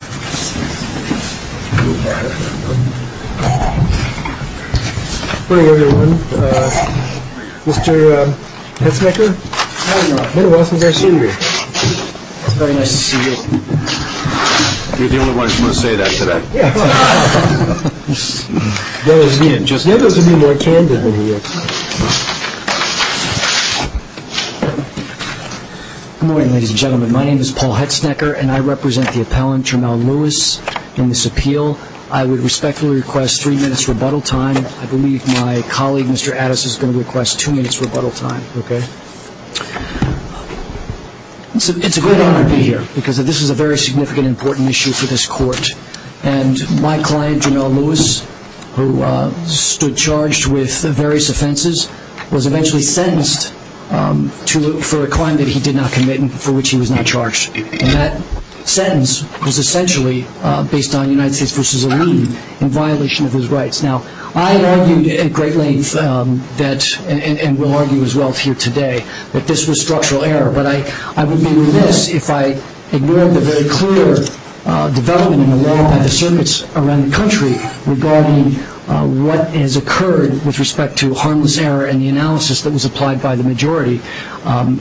Hetznecker. Good morning, everyone. Mr. Hetznecker. Good morning, Ross. It's very nice to see you. You're the only one who's going to say that today. There goes a bit more candor than he is. Good morning, ladies and gentlemen. My name is Paul Hetznecker, and I represent the appellant, Jamel Lewis, in this appeal. I would respectfully request three minutes rebuttal time. I believe my colleague, Mr. Addis, is going to request two minutes rebuttal time, okay? It's a good honor to be here because this is a very significant, important issue for this court. And my client, Jamel Lewis, who stood charged with various offenses, was eventually sentenced for a crime that he did not commit and for which he was not charged. And that sentence was essentially based on United States v. Iran in violation of his rights. Now, I have argued at great length, and will argue as well for you today, that this was structural error. But I would be remiss if I ignored the very clear development in the law by the circuits around the country regarding what has occurred with respect to harmless error and the analysis that was applied by the majority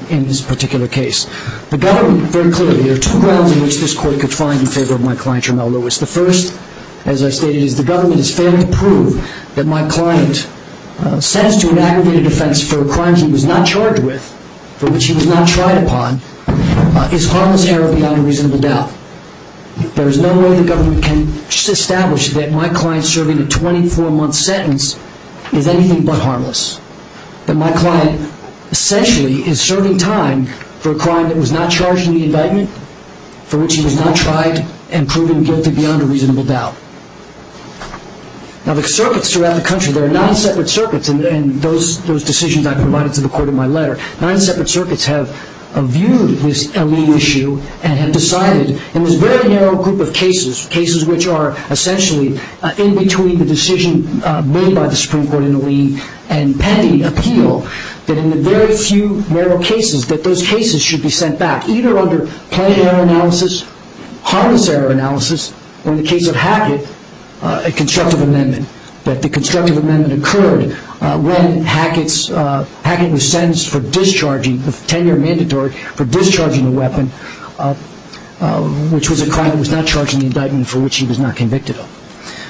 in this particular case. Very clearly, there are two grounds in which this court could find in favor of my client, Jamel Lewis. The first, as I stated, is the government has fairly proved that my client stands to an aggravated offense for a crime he was not charged with, for which he was not tried upon, is harmless error beyond a reasonable doubt. There is no way the government can establish that my client serving a 24-month sentence is anything but harmless. That my client essentially is serving time for a crime that was not charged in the indictment, for which he was not tried, and proven guilty beyond a reasonable doubt. Now, the circuits around the country, there are nine separate circuits, and those decisions I provided to the court in my letter, nine separate circuits have viewed this L.E.A. issue and have decided in this very narrow group of cases, cases which are essentially in between the decision made by the Supreme Court in L.E.A. and pending appeal, that in the very few narrow cases, that those cases should be sent back, either under planned error analysis, harmless error analysis, or in the case of Hackett, a constructive amendment. That the constructive amendment occurred when Hackett was sentenced for discharging, a 10-year mandatory for discharging a weapon, which was a crime that was not charged in the indictment, for which he was not convicted of.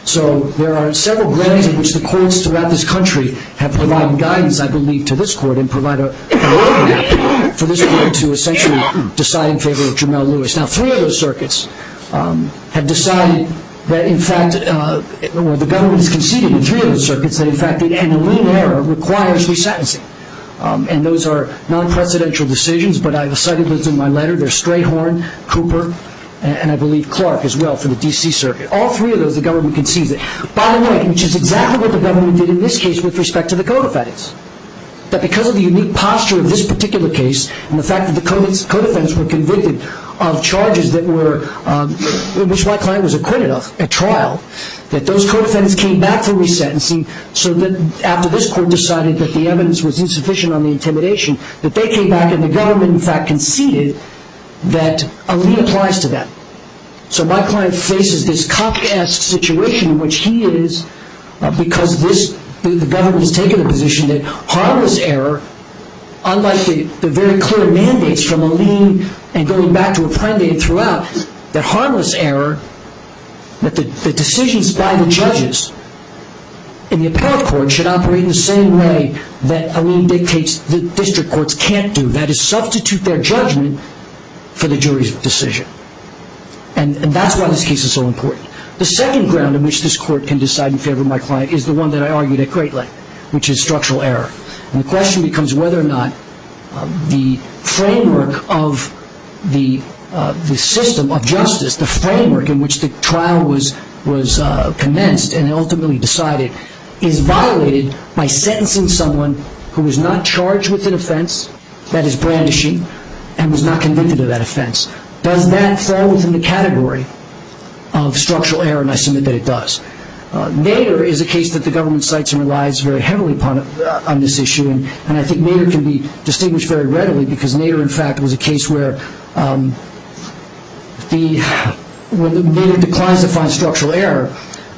So there are several ways in which the courts throughout this country have provided guidance, I believe, to this court, and provide an organization to this court, to essentially decide in favor of Jamelle Lewis. Now, three of those circuits have decided that in fact, well, the government has conceded in three of those circuits that in fact, in a little error, requires re-sentencing. And those are non-presidential decisions, but I've cited those in my letter. There's Strayhorn, Cooper, and I believe Clark as well, from the D.C. Circuit. All three of those, the government conceded. By the way, which is exactly what the government did in this case with respect to the code offense, that because of the unique posture of this particular case, and the fact that the code offense were convicted of charges in which my client was acquitted of at trial, that those code offenses came back to re-sentencing, so that after this court decided that the evidence was insufficient on the intimidation, that they came back and the government in fact conceded that a re-applies to them. So my client faces this cock-ass situation in which he is, because the government has taken a position that harmless error, unless a very clear mandate from a lien and going back to a prime date throughout, that harmless error, that the decisions by the judges in the appellate court should operate in the same way that a lien dictates that district courts can't do. That is, substitute their judgment for the jury's decision. And that's why this case is so important. The second ground on which this court can decide in favor of my client is the one that I argued at great length, which is structural error. And the question becomes whether or not the framework of the system of justice, the framework in which the trial was commenced and ultimately decided, is violated by sentencing someone who was not charged with an offense, that is brandishing, and was not convicted of that offense. Does that fall within the category of structural error? And I submit that it does. Nader is a case that the government cites in their lives very heavily on this issue, and I think Nader can be distinguished very readily because Nader, in fact, was a case where when Nader declined to find structural error,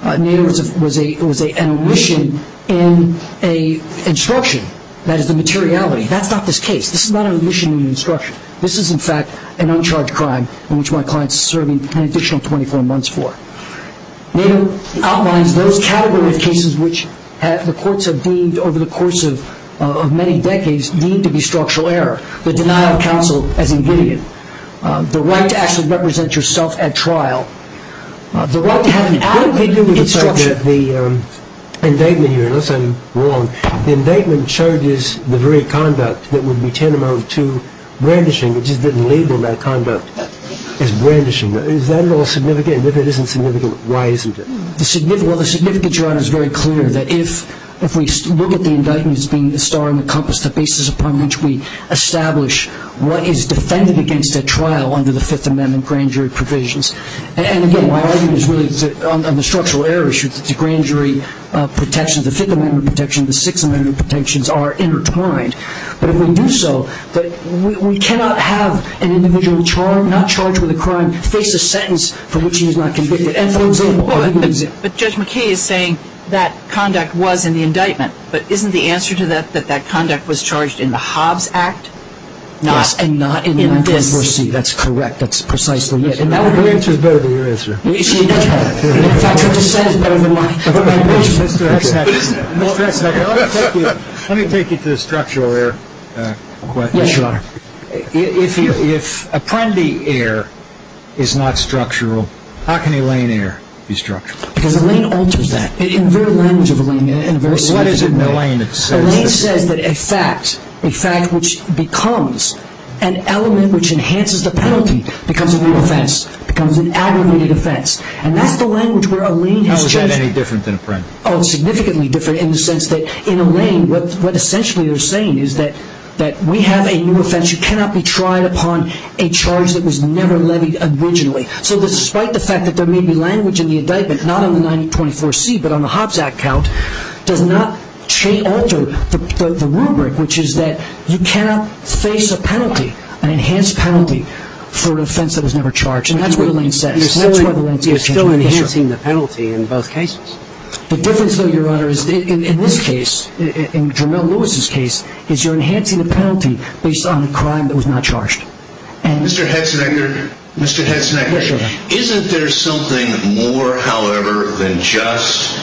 Nader was an omission in an instruction. That is the materiality. That's not this case. This is not an omission in an instruction. This is, in fact, an uncharged crime in which my client is serving an additional 24 months for. Nader outlines those category of cases which the courts have deemed over the course of many decades need to be structural error. The denial of counsel has been given. The right to actually represent yourself at trial. The right to have an equal degree of instruction. The indictment here, unless I'm wrong, the indictment charges the very conduct that would be tantamount to brandishing, which has been labeled that conduct as brandishing. Is that at all significant? If it isn't significant, why isn't it? Well, the significant charge is very clear, that if we look at the indictment as being the star and the compass, the basis upon which we establish what is defended against at trial under the Fifth Amendment grand jury provisions, and, again, my argument is really on the structural error issue. The grand jury protections, the Fifth Amendment protections, the Sixth Amendment protections are intertwined. We do so, but we cannot have an individual not charged with a crime face a sentence for which he is not convicted. Judge McKee is saying that conduct was in the indictment, but isn't the answer to that that that conduct was charged in the Hobbs Act? Yes, and not in the indictment. That's correct. That's precisely it. The answer is better than your answer. In fact, I've already said it, but I wouldn't want you to. Let me take you to the structural error question. Yes, Your Honor. If Apprendi error is not structural, how can Elaine error be structural? Because Elaine alters that. What is it that Elaine said? Elaine said that a fact, a fact which becomes an element which enhances the penalty, becomes a new offense, becomes an adorned offense. And that's the language where Elaine has changed it. How is that any different than Apprendi? Oh, it's significantly different in the sense that in Elaine, what essentially you're saying is that we have a new offense. You cannot be tried upon a charge that was never levied originally. So despite the fact that there may be language in the indictment, not on the 1924C, but on the Hobbs Act count, does not change after the rubric, which is that you cannot face a penalty, an enhanced penalty, for an offense that was never charged. And that's what Elaine said. And that's why Elaine changed it. You're still enhancing the penalty in both cases. The difference, though, Your Honor, is in this case, in Jermell Lewis' case, is you're enhancing the penalty based on a crime that was not charged. Mr. Hetzenecker, isn't there something more, however, than just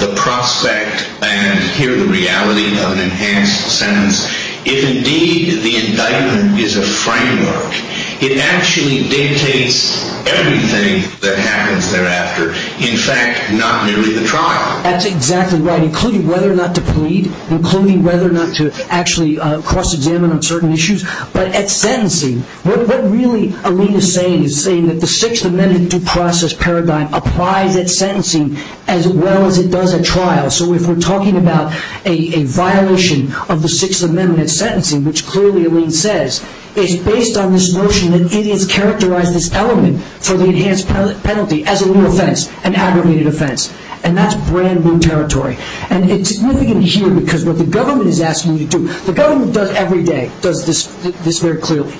the prospect and, here, the reality of an enhanced sentence, if indeed the indictment is a crime charge? It actually dictates everything that happens thereafter. In fact, not merely the trial. That's exactly right, including whether or not to plead, including whether or not to actually cross-examine on certain issues. But at sentencing, what really Elaine is saying is that the Sixth Amendment due process paradigm applies at sentencing as well as it does at trial. So if we're talking about a violation of the Sixth Amendment at sentencing, which clearly, Elaine says, is based on this notion that it has characterized this element for the enhanced penalty as a new offense, an aggregated offense. And that's brand-new territory. And it's significant here because what the government is asking you to do, the government does every day, does this very clearly.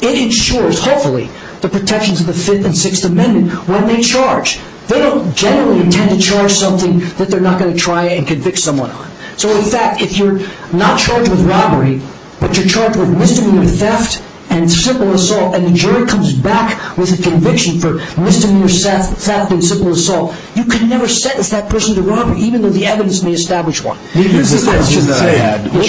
It ensures, hopefully, the protections of the Fifth and Sixth Amendment when they charge. They don't generally intend to charge something that they're not going to try and convict someone on. So, in fact, if you're not charged with robbery, but you're charged with misdemeanor theft and simple assault, and the jury comes back with a conviction for misdemeanor theft and simple assault, you can never sentence that person to robbery, even though the evidence may establish one. Excuse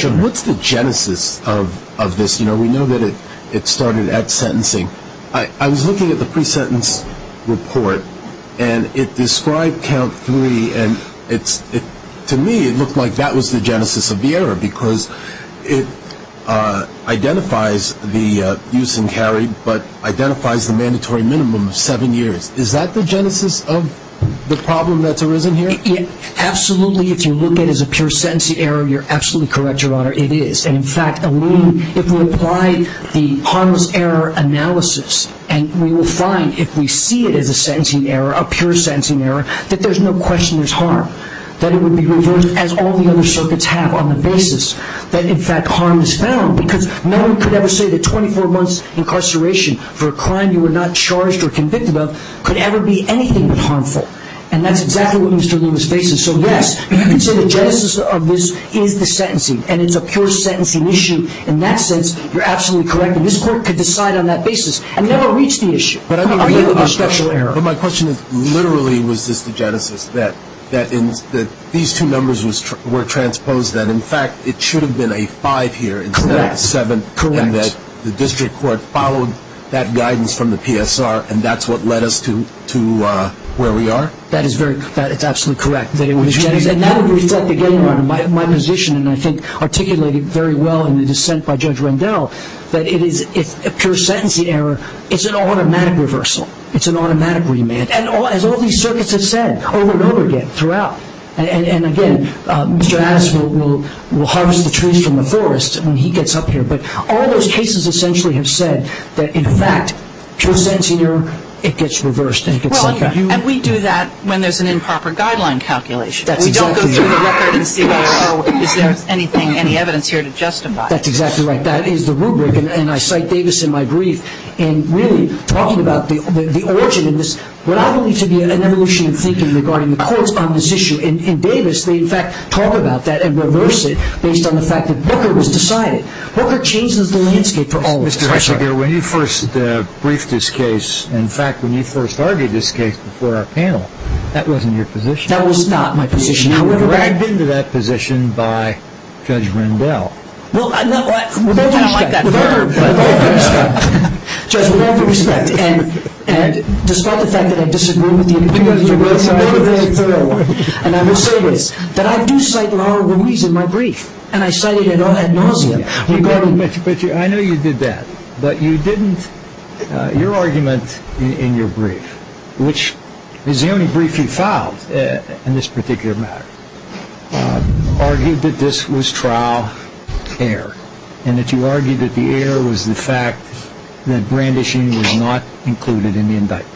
me. What's the genesis of this? You know, we know that it started at sentencing. I was looking at the pre-sentence report, and it described count three, and to me it looked like that was the genesis of the error because it identifies the use and carry, but identifies the mandatory minimum of seven years. Is that the genesis of the problem that's arisen here? Absolutely. If you look at it as a pure sentencing error, you're absolutely correct, Your Honor. It is. In fact, if we apply the harmless error analysis, and we will find if we see it as a sentencing error, a pure sentencing error, that there's no question there's harm, that it would be reversed as all the other circuits have on the basis that, in fact, harm is found because no one could ever say that 24 months' incarceration for a crime you were not charged or convicted of could ever be anything but harmful, and that's exactly what Mr. Lewis faces. So, yes, the genesis of this is the sentencing, and it's a pure sentencing issue. In that sense, you're absolutely correct, and this court could decide on that basis and never reach the issue of a special error. But my question literally was just the genesis, that these two numbers were transposed, that, in fact, it should have been a five here instead of a seven, proving that the district court followed that guidance from the PSR, and that's what led us to where we are? That is absolutely correct. And that would reflect again on my position, and I think articulated very well in the dissent by Judge Rendell, that a pure sentencing error is an automatic reversal. It's an automatic remand, as all these circuits have said over and over again, throughout. And, again, Mr. Adams will harvest the trees from the forest when he gets up here, but all those cases essentially have said that, in fact, pure sentencing error, it gets reversed. Well, and we do that when there's an improper guideline calculation. We don't go through the record and say, well, is there any evidence here to justify it? That's exactly right. That is the rubric, and I cite Davis in my brief, in really talking about the origin of this, what I believe to be an evolutionary feature regarding the court on this issue, and Davis may, in fact, talk about that and reverse it, based on the fact that Booker was decided. Booker changed the landscape for all of us. When you first briefed this case, in fact, when you first argued this case before our panel, that wasn't your position. That was not my position. You were dragged into that position by Judge Rundell. Well, I don't like that term. Judge, with all due respect, and despite the fact that I disagree with you, because it's a really thorough one, and I will say this, that I do cite the Honorable Louise in my brief, and I cited it in all that nausea. I know you did that, but you didn't, your argument in your brief, which is the only brief you filed in this particular matter, argued that this was trial error, and that you argued that the error was the fact that brandishing was not included in the indictment.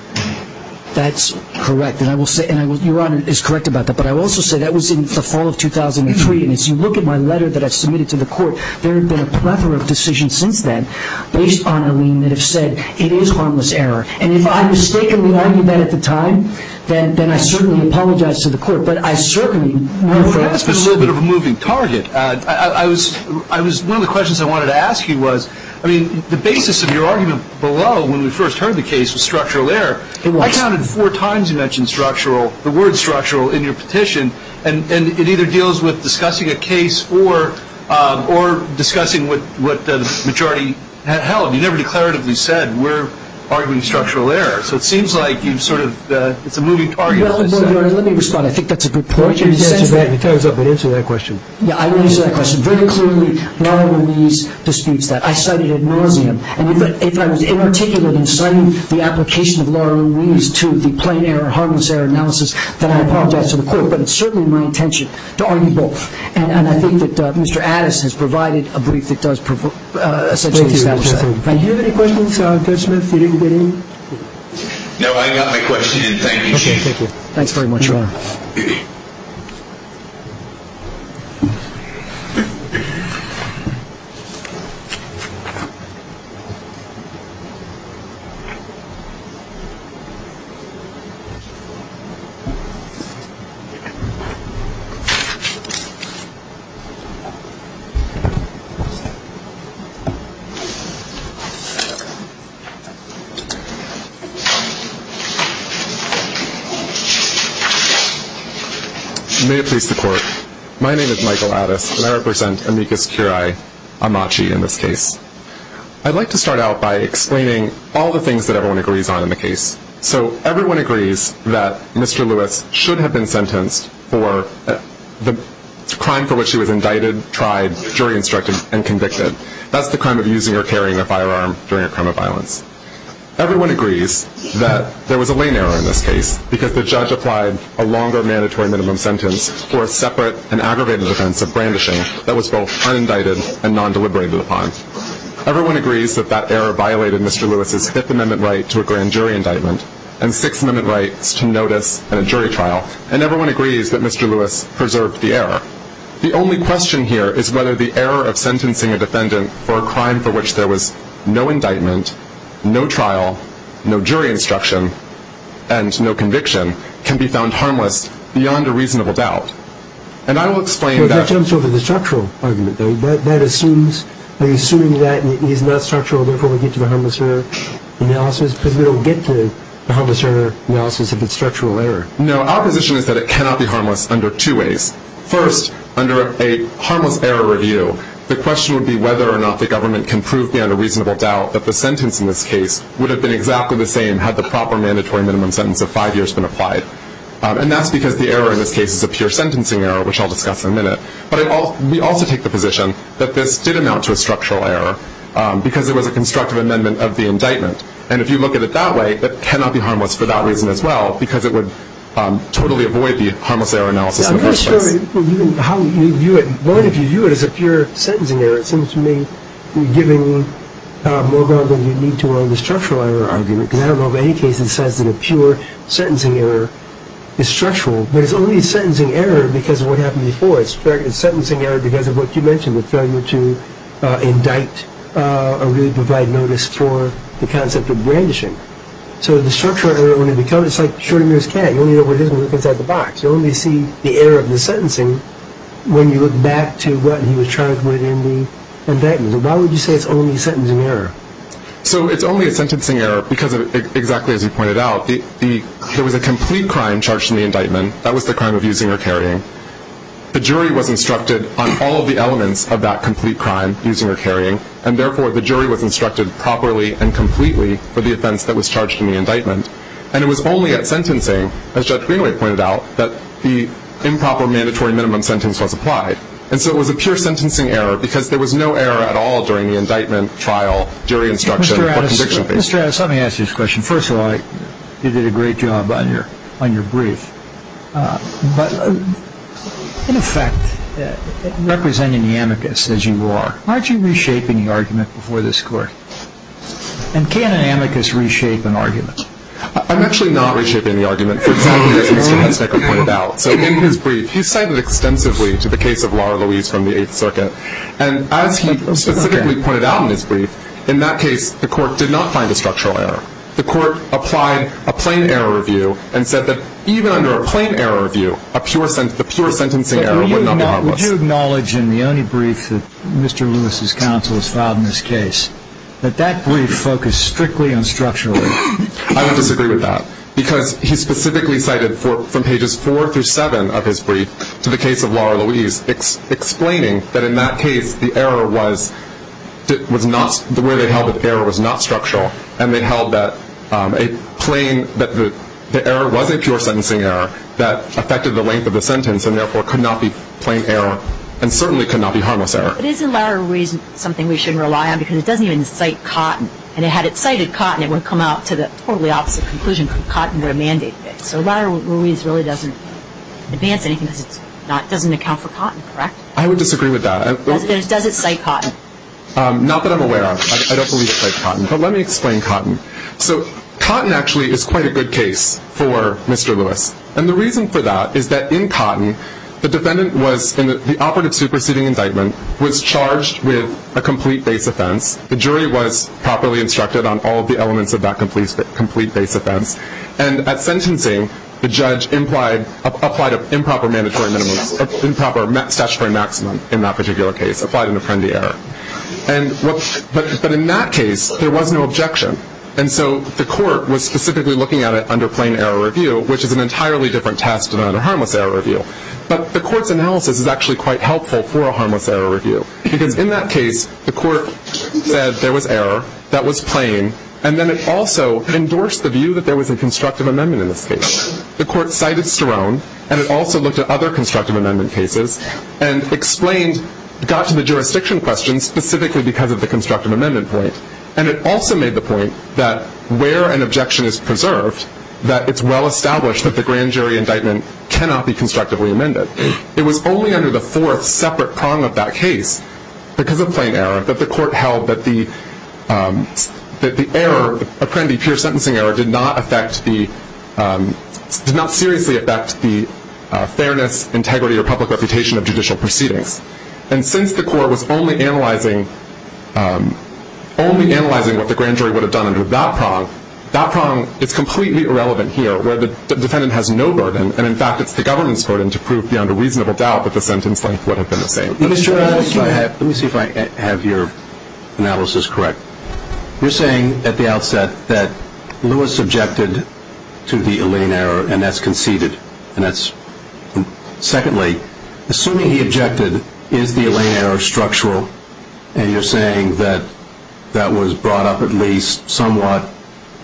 That's correct, and I will say, and Your Honor is correct about that, but I will also say that was in the fall of 2003, and as you look at my letter that I submitted to the court, there have been a plethora of decisions since then based on a lien that have said, it is harmless error, and if I mistakenly argued that at the time, then I certainly apologize to the court, but I certainly will ask you to look at it. That's a little bit of a moving target. One of the questions I wanted to ask you was, I mean, the basis of your argument below, when we first heard the case, was structural error. It was. I counted four times you mentioned structural, the word structural, in your petition, and it either deals with discussing a case or discussing what the majority held. You never declaratively said, we're arguing structural error, so it seems like you've sort of, it's a moving target. Let me respond. I think that's a good point. You can answer that, but answer that question. Yeah, I will answer that question. Very clearly, not on my knees to speak to that. I studied ad nauseam, and if I was inarticulate in citing the application of not on my knees to the plain error, harmless error analysis, then I apologize to the court, but it's certainly my intention to argue both, and I think that Mr. Addis has provided a brief that does essentially establish that. Do you have any questions, Judge Smith? You didn't get any? No, I got my question, and thank you, Chief. Okay, thank you. Thanks very much. May it please the Court, my name is Michael Addis, and I represent amicus curiae amachi in this case. I'd like to start out by explaining all the things that everyone agrees on in the case. So everyone agrees that Mr. Lewis should have been sentenced for the crime for which he was indicted, tried, jury instructed, and convicted. That's the crime of using or carrying a firearm during a crime of violence. Everyone agrees that there was a lane error in this case because the judge applied a longer mandatory minimum sentence for a separate and aggravated offense of brandishing that was both unindicted and non-deliberated upon. Everyone agrees that that error violated Mr. Lewis's Fifth Amendment right to a grand jury indictment and Sixth Amendment right to notice in a jury trial, and everyone agrees that Mr. Lewis preserved the error. The only question here is whether the error of sentencing a defendant for a crime for which there was no indictment, no trial, no jury instruction, and no conviction can be found harmless beyond a reasonable doubt. And I will explain that. That sounds sort of a structural argument, though. Are you assuming that it is not structural and therefore we get to the harmless error analysis? Because we don't get to the harmless error analysis if it's structural error. No, our position is that it cannot be harmless under two ways. First, under a harmless error review, the question would be whether or not the government can prove beyond a reasonable doubt that the sentence in this case would have been exactly the same had the proper mandatory minimum sentence of five years been applied. And that's because the error in this case is a pure sentencing error, which I'll discuss in a minute. But we also take the position that this did amount to a structural error because it was a constructive amendment of the indictment. And if you look at it that way, it cannot be harmless for that reason as well because it would totally avoid the harmless error analysis. I'm not sure how you view it. What if you view it as a pure sentencing error? It seems to me you're giving more ground than you need to on the structural error argument. And I don't know of any case in science where a pure sentencing error is structural. There's only a sentencing error because of what happened before. It's a sentencing error because of what you mentioned, the failure to indict or really provide notice for the concept of brandishing. So the structural error, when it becomes, it's like showing you this can. You only know what it is when you look inside the box. You only see the error of the sentencing when you look back to what he was charged with in the indictment. So why would you say it's only a sentencing error? So it's only a sentencing error because, exactly as you pointed out, there was a complete crime charged in the indictment. That was the crime of using or carrying. The jury was instructed on all of the elements of that complete crime, using or carrying, and therefore the jury was instructed properly and completely for the offense that was charged in the indictment. And it was only at sentencing, as Judge Greenway pointed out, that the improper mandatory minimum sentence was applied. And so it was a pure sentencing error because there was no error at all during the indictment, trial, jury instruction or conviction phase. Mr. Adams, let me ask you this question. First of all, you did a great job on your brief. But, in effect, representing the amicus as you are, aren't you reshaping the argument before this court? And can an amicus reshape an argument? I'm actually not reshaping the argument. You can't take a point out. In his brief, he cited extensively to the case of Law and the Lease from the 8th Circuit. And as he specifically pointed out in his brief, in that case the court did not find a structural error. The court applied a plain error review and said that even under a plain error review, a pure sentencing error would not be wrong. Would you acknowledge in the only brief that Mr. Lewis' counsel has filed in this case that that brief focused strictly on structural error? I would disagree with that. Because he specifically cited from pages 4 through 7 of his brief to the case of Law and the Lease, explaining that in that case the error was not, the way they held the error was not structural. And they held that a plain, that the error was a pure sentencing error that affected the length of the sentence and, therefore, could not be plain error and certainly could not be harmless error. Isn't Law and the Lease something we should rely on? Because it doesn't even cite Cotton. And had it cited Cotton, it would have come out to the totally opposite conclusion because Cotton would have mandated it. So Law and the Lease really doesn't advance anything. It doesn't account for Cotton, correct? I would disagree with that. Does it cite Cotton? Not that I'm aware of. I don't believe it cites Cotton. But let me explain Cotton. So Cotton actually is quite a good case for Mr. Lewis. And the reason for that is that in Cotton, the defendant was in the operative superseding indictment, was charged with a complete base offense. The jury was properly instructed on all of the elements of that complete base offense. And at sentencing, the judge applied an improper statutory maximum in that particular case, applied an offending error. But in that case, there was no objection. And so the court was specifically looking at it under plain error review, which is an entirely different test than under harmless error review. But the court's analysis is actually quite helpful for a harmless error review because in that case the court said there was error, that was plain, and then it also endorsed the view that there was a constructive amendment in this case. The court cited Sterone, and it also looked at other constructive amendment cases and got to the jurisdiction question specifically because of the constructive amendment point. And it also made the point that where an objection is preserved, that it's well established that the grand jury indictment cannot be constructively amended. It was only under the fourth separate prong of that case, because of plain error, that the court held that the error, apparently pure sentencing error, did not seriously affect the fairness, integrity, or public reputation of judicial proceedings. And since the court was only analyzing what the grand jury would have done under that prong, that prong is completely irrelevant here where the defendant has no burden. And, in fact, it's the government's burden to prove beyond a reasonable doubt that the sentence would have been the same. Let me see if I have your analysis correct. You're saying at the outset that Lewis objected to the Elaine error, and that's conceded. Secondly, assuming he objected, is the Elaine error structural? And you're saying that that was brought up at least somewhat.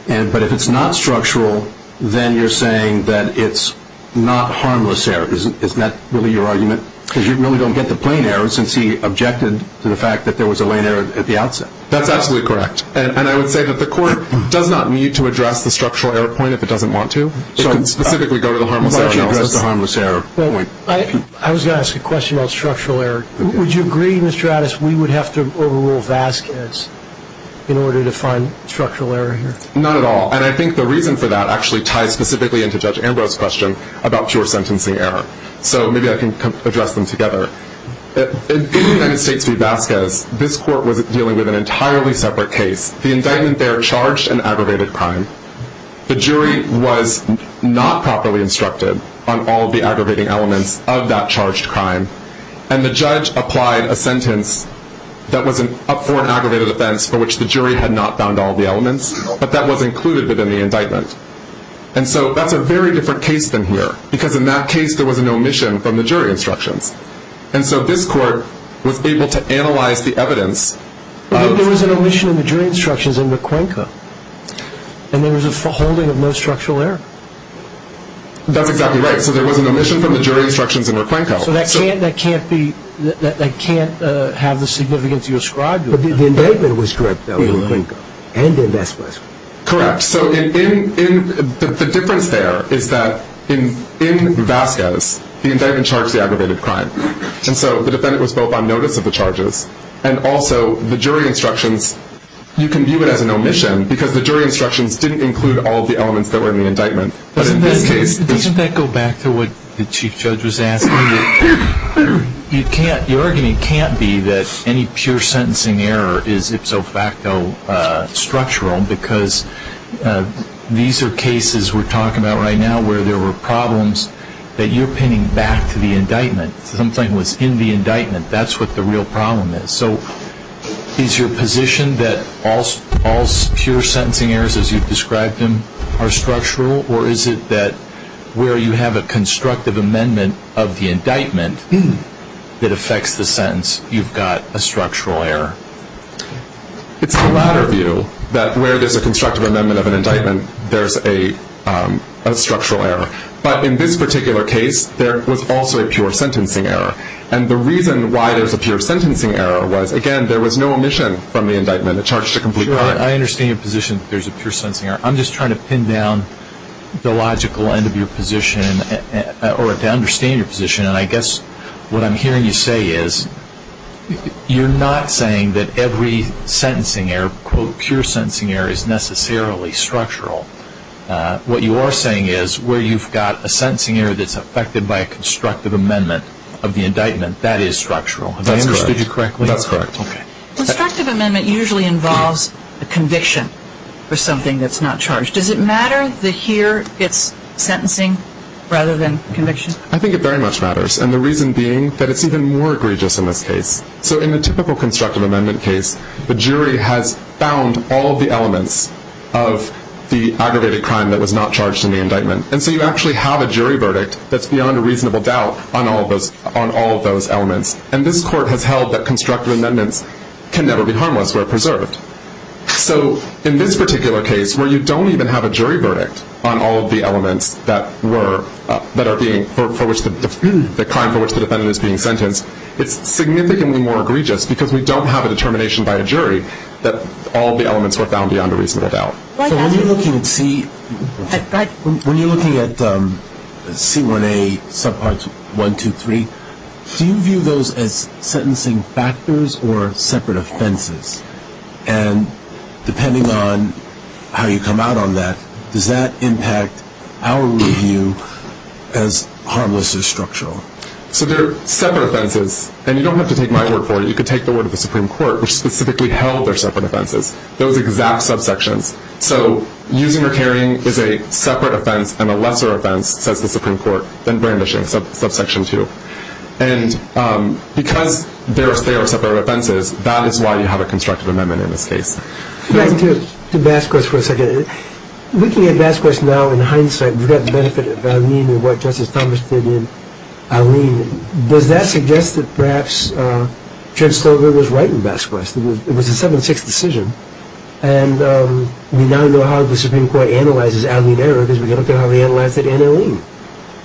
But if it's not structural, then you're saying that it's not harmless error. Isn't that really your argument? Because you really don't get the plain error since he objected to the fact that there was Elaine error at the outset. That's absolutely correct. And I would say that the court does not need to address the structural error point if it doesn't want to. It can specifically go to the harmless error point. I was going to ask a question about structural error. Would you agree, Mr. Addis, we would have to overrule Vasquez in order to find structural error here? Not at all. And I think the reason for that actually ties specifically into Judge Ambrose's question about pure sentencing error. So maybe I can address them together. In the United States v. Vasquez, this court was dealing with an entirely separate case. The indictment there charged an aggravated crime. The jury was not properly instructed on all the aggravating elements of that charged crime. And the judge applied a sentence that was up for an aggravated offense for which the jury had not found all the elements. But that was included within the indictment. And so that's a very different case than here because in that case there was an omission from the jury instruction. And so this court was able to analyze the evidence. But there was an omission in the jury instructions in the Crenca, and there was a holding of no structural error. That's exactly right. So there was an omission from the jury instructions in the Crenca. So that can't have the significance you ascribed to it. But the indictment was correct, though, in the Crenca and in Vasquez. Correct. So the difference there is that in Vasquez, the indictment charged the aggravated crime. And so the defendant was both on notice of the charges and also the jury instructions. You can view it as an omission because the jury instructions didn't include all of the elements that were in the indictment. But in that case they should be. Can I go back to what the Chief Judge was asking? The argument can't be that any pure sentencing error is ipso facto structural because these are cases we're talking about right now where there were problems that you're pinning back to the indictment. Something was in the indictment. That's what the real problem is. So is your position that all pure sentencing errors as you've described them are structural, or is it that where you have a constructive amendment of the indictment that affects the sentence, you've got a structural error? It's my latter view that where there's a constructive amendment of an indictment, there's a structural error. But in this particular case, there was also a pure sentencing error. And the reason why there's a pure sentencing error was, again, there was no omission from the indictment. It charged a complete crime. I understand your position that there's a pure sentencing error. I'm just trying to pin down the logical end of your position or to understand your position, and I guess what I'm hearing you say is you're not saying that every sentencing error, quote, pure sentencing error, is necessarily structural. What you are saying is where you've got a sentencing error that's affected by a constructive amendment of the indictment, that is structural. Have I understood you correctly? That's correct. A constructive amendment usually involves a conviction for something that's not charged. Does it matter that here it's sentencing rather than conviction? I think it very much matters, and the reason being that it's even more egregious in this case. So in a typical constructive amendment case, the jury has found all the elements of the aggravated crime that was not charged in the indictment, and so you actually have a jury verdict that's beyond a reasonable doubt on all of those elements. And this court has held that constructive amendments can never be harmless or preserved. So in this particular case where you don't even have a jury verdict on all of the elements that were, that are being, for which the crime for which the defendant is being sentenced, it's significantly more egregious because we don't have a determination by a jury that all the elements were found beyond a reasonable doubt. When you're looking at C1A subparts 1, 2, 3, do you view those as sentencing factors or separate offenses? And depending on how you come out on that, does that impact our review as harmless or structural? So they're separate offenses, and you don't have to take my word for it. You could take the word of the Supreme Court, which specifically held they're separate offenses. Those exact subsections. So using or carrying is a separate offense and a lesser offense, says the Supreme Court, than brandishing, subsection 2. And because they're separate offenses, that is why you have a constructive amendment in this case. Let me go to Vasquez for a second. Looking at Vasquez now in hindsight, you've got Vasquez, Arlene, and what Justice Thomas did with Arlene. And does that suggest that perhaps Ken Skogler was right in Vasquez? It was a 7-6 decision. And we now know how the Supreme Court analyzes Arlene there because we can look at how they analyzed it in Arlene.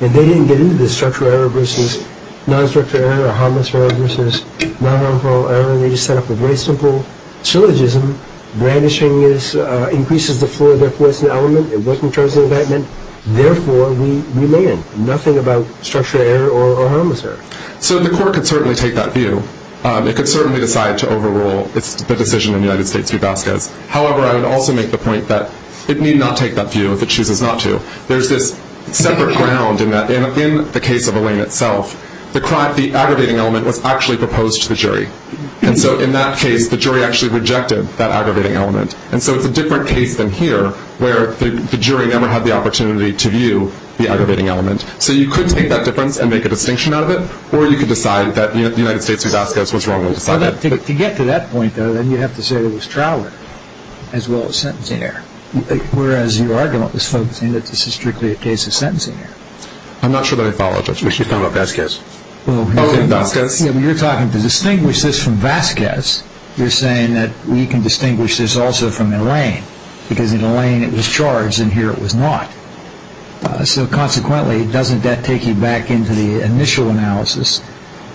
And they didn't get into the structural error versus non-structural error or harmless error versus non-harmful error. They just have a very simple syllogism. Brandishing increases the force of the element. Therefore, we land. Nothing about structural error or harmless error. So the court could certainly take that view. It could certainly decide to overrule the decision in the United States v. Vasquez. However, I would also make the point that it need not take that view if it chooses not to. There's a separate ground in that. And in the case of Arlene itself, the aggravating element was actually proposed to the jury. And so in that case, the jury actually rejected that aggravating element. And so it's a different case than here where the jury never had the opportunity to view the aggravating element. So you could make that difference and make a distinction out of it, or you could decide that the United States v. Vasquez was wrong as a project. To get to that point, though, then you have to say it was trial as well as sentencing error, whereas you are going to have to say that this is strictly a case of sentencing error. I'm not sure that I followed. We should talk about Vasquez. Okay, Vasquez. You're talking to distinguish this from Vasquez. You're saying that we can distinguish this also from Arlene because in Arlene it was charged and here it was not. So consequently, doesn't that take you back into the initial analysis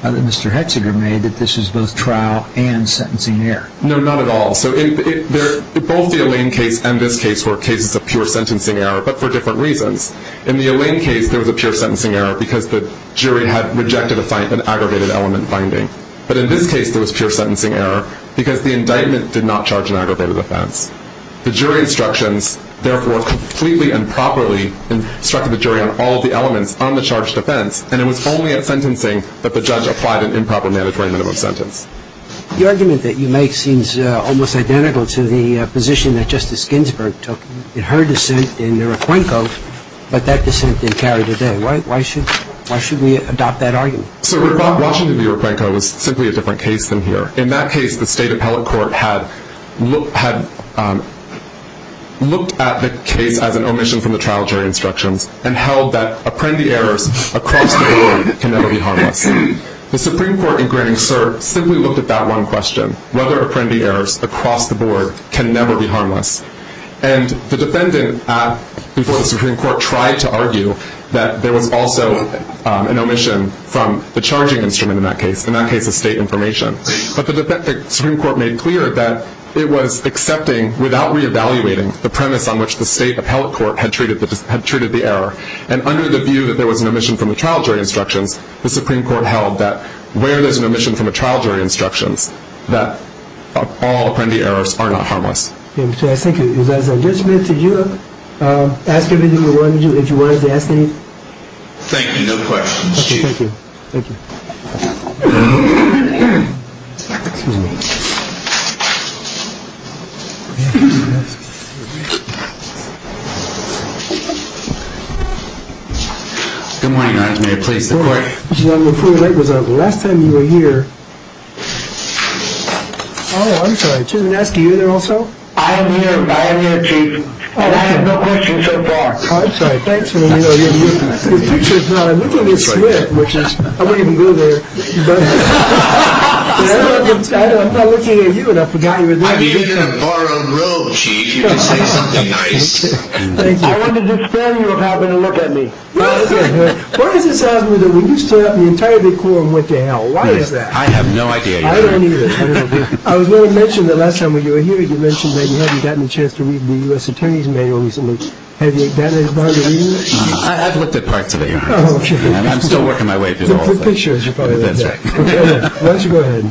that Mr. Hexeter made that this is both trial and sentencing error? No, not at all. So both the Arlene case and this case were cases of pure sentencing error but for different reasons. In the Arlene case, there was a pure sentencing error because the jury had rejected an aggravated element finding. But in this case, there was pure sentencing error because the indictment did not charge an aggravated offense. The jury instructions, therefore, completely and properly instructed the jury on all the elements on the charged offense, and it was only at sentencing that the judge applied an improper mandatory minimum sentence. The argument that you make seems almost identical to the position that Justice Ginsburg took in her dissent in Iroquoinko, but that dissent didn't carry today. Why should we adopt that argument? So Washington's Iroquoinko was simply a different case than here. In that case, the state appellate court had looked at the case as an omission from the trial jury instructions and held that apprendee errors across the board can never be harmless. The Supreme Court, in granting cert, simply looked at that one question, and the defendant, as the Supreme Court tried to argue, that there was also an omission from the charging instrument in that case, in that case of state information. But the Supreme Court made clear that it was accepting, without reevaluating, the premise on which the state appellate court had treated the error, and under the view that there was an omission from the trial jury instruction, the Supreme Court held that where there's an omission from a trial jury instruction, that all apprendee errors are not harmless. Thank you. Judge Smith, did you want to add anything? Thank you. No questions. Thank you. Good morning, Your Honor. May I please be quick? The last time you were here... Oh, I'm sorry. Jim and Ed, are you there also? I am here. I am here, too. I have no questions so far. Oh, I'm sorry. Thanks for being here. The picture's not as good as it should have, which is... I wouldn't even go there. I know. I'm not looking at you. I forgot you were there. I'd be sitting in a bar on the road. Thank you. I wanted to suspend you from having a look at me. Okay. Why does it sound to me that when you stand up, you tell the court what the hell? Why is that? I have no idea, Your Honor. I don't either. I was going to mention that last time when you were here, you mentioned that you haven't gotten a chance to read the U.S. Attorney's Manual recently. Have you gotten a chance to read it? I've looked at parts of it, Your Honor. Oh, okay. I'm still working my way through all of it. The picture is part of that. Okay. Why don't you go ahead?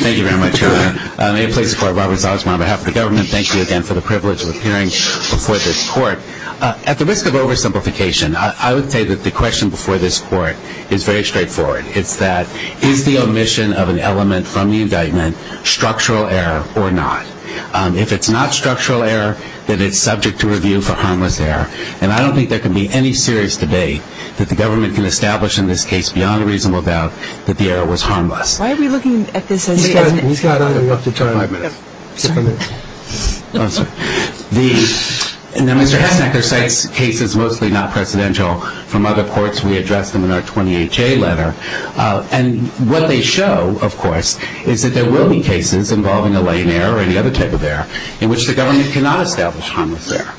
Thank you very much, Your Honor. May it please the Court, Robert Zausman on behalf of the government, thank you again for the privilege of appearing before this court. At the risk of oversimplification, I would say that the question before this court is very straightforward. It's that, is the omission of an element from the indictment structural error or not? If it's not structural error, then it's subject to review for harmless error. And I don't think there can be any serious debate that the government can establish in this case, beyond a reasonable doubt, that the error was harmless. Why are we looking at this when you've gotten it? We've got all we want to talk about. Okay. Go ahead. Mr. Hennick, there are cases, mostly not presidential, from other courts. We addressed them in our 20HA letter. And what they show, of course, is that there will be cases involving a lane error or any other type of error in which the government cannot establish harmless error.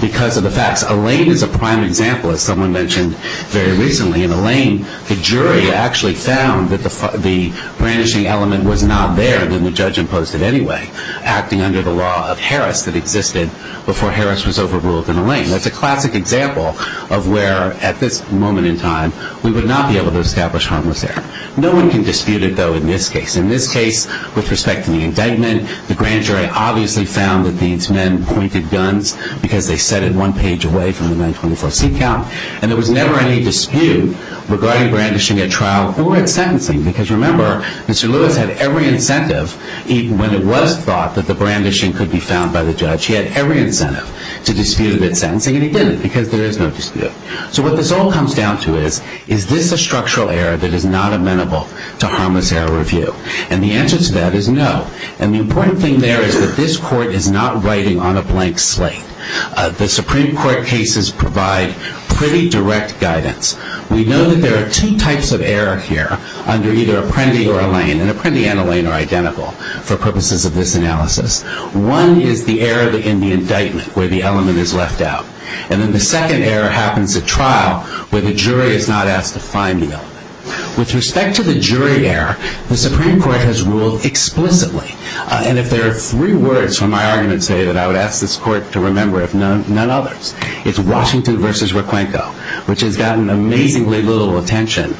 Because of the fact that a lane is a prime example, as someone mentioned very recently, in a lane, the jury actually found that the brandishing element was not there when the judge imposed it anyway, acting under the law of Harris, that existed before Harris was overruled in a lane. That's a classic example of where, at this moment in time, we would not be able to establish harmless error. No one can dispute it, though, in this case. In this case, with respect to the indictment, the grand jury obviously found that these men pointed guns because they set it one page away from the 924C count. And there was never any dispute regarding brandishing at trial or at sentencing. Because remember, Mr. Lewis had every incentive, even when it was thought that the brandishing could be found by the judge, he had every incentive to dispute it at sentencing. And he didn't, because there is no dispute. So what this all comes down to is, is this a structural error that is not amenable to harmless error review? And the answer to that is no. And the important thing there is that this court is not writing on a blank slate. The Supreme Court cases provide pretty direct guidance. We know that there are two types of error here, under either Apprendi or Allain, and Apprendi and Allain are identical, for purposes of this analysis. One is the error in the indictment, where the element is left out. And then the second error happens at trial, where the jury is not asked to find the element. With respect to the jury error, the Supreme Court has ruled explicitly. And if there are three words from my argument today that I would ask this court to remember, if none other, it's Washington v. Roquenco, which has gotten amazingly little attention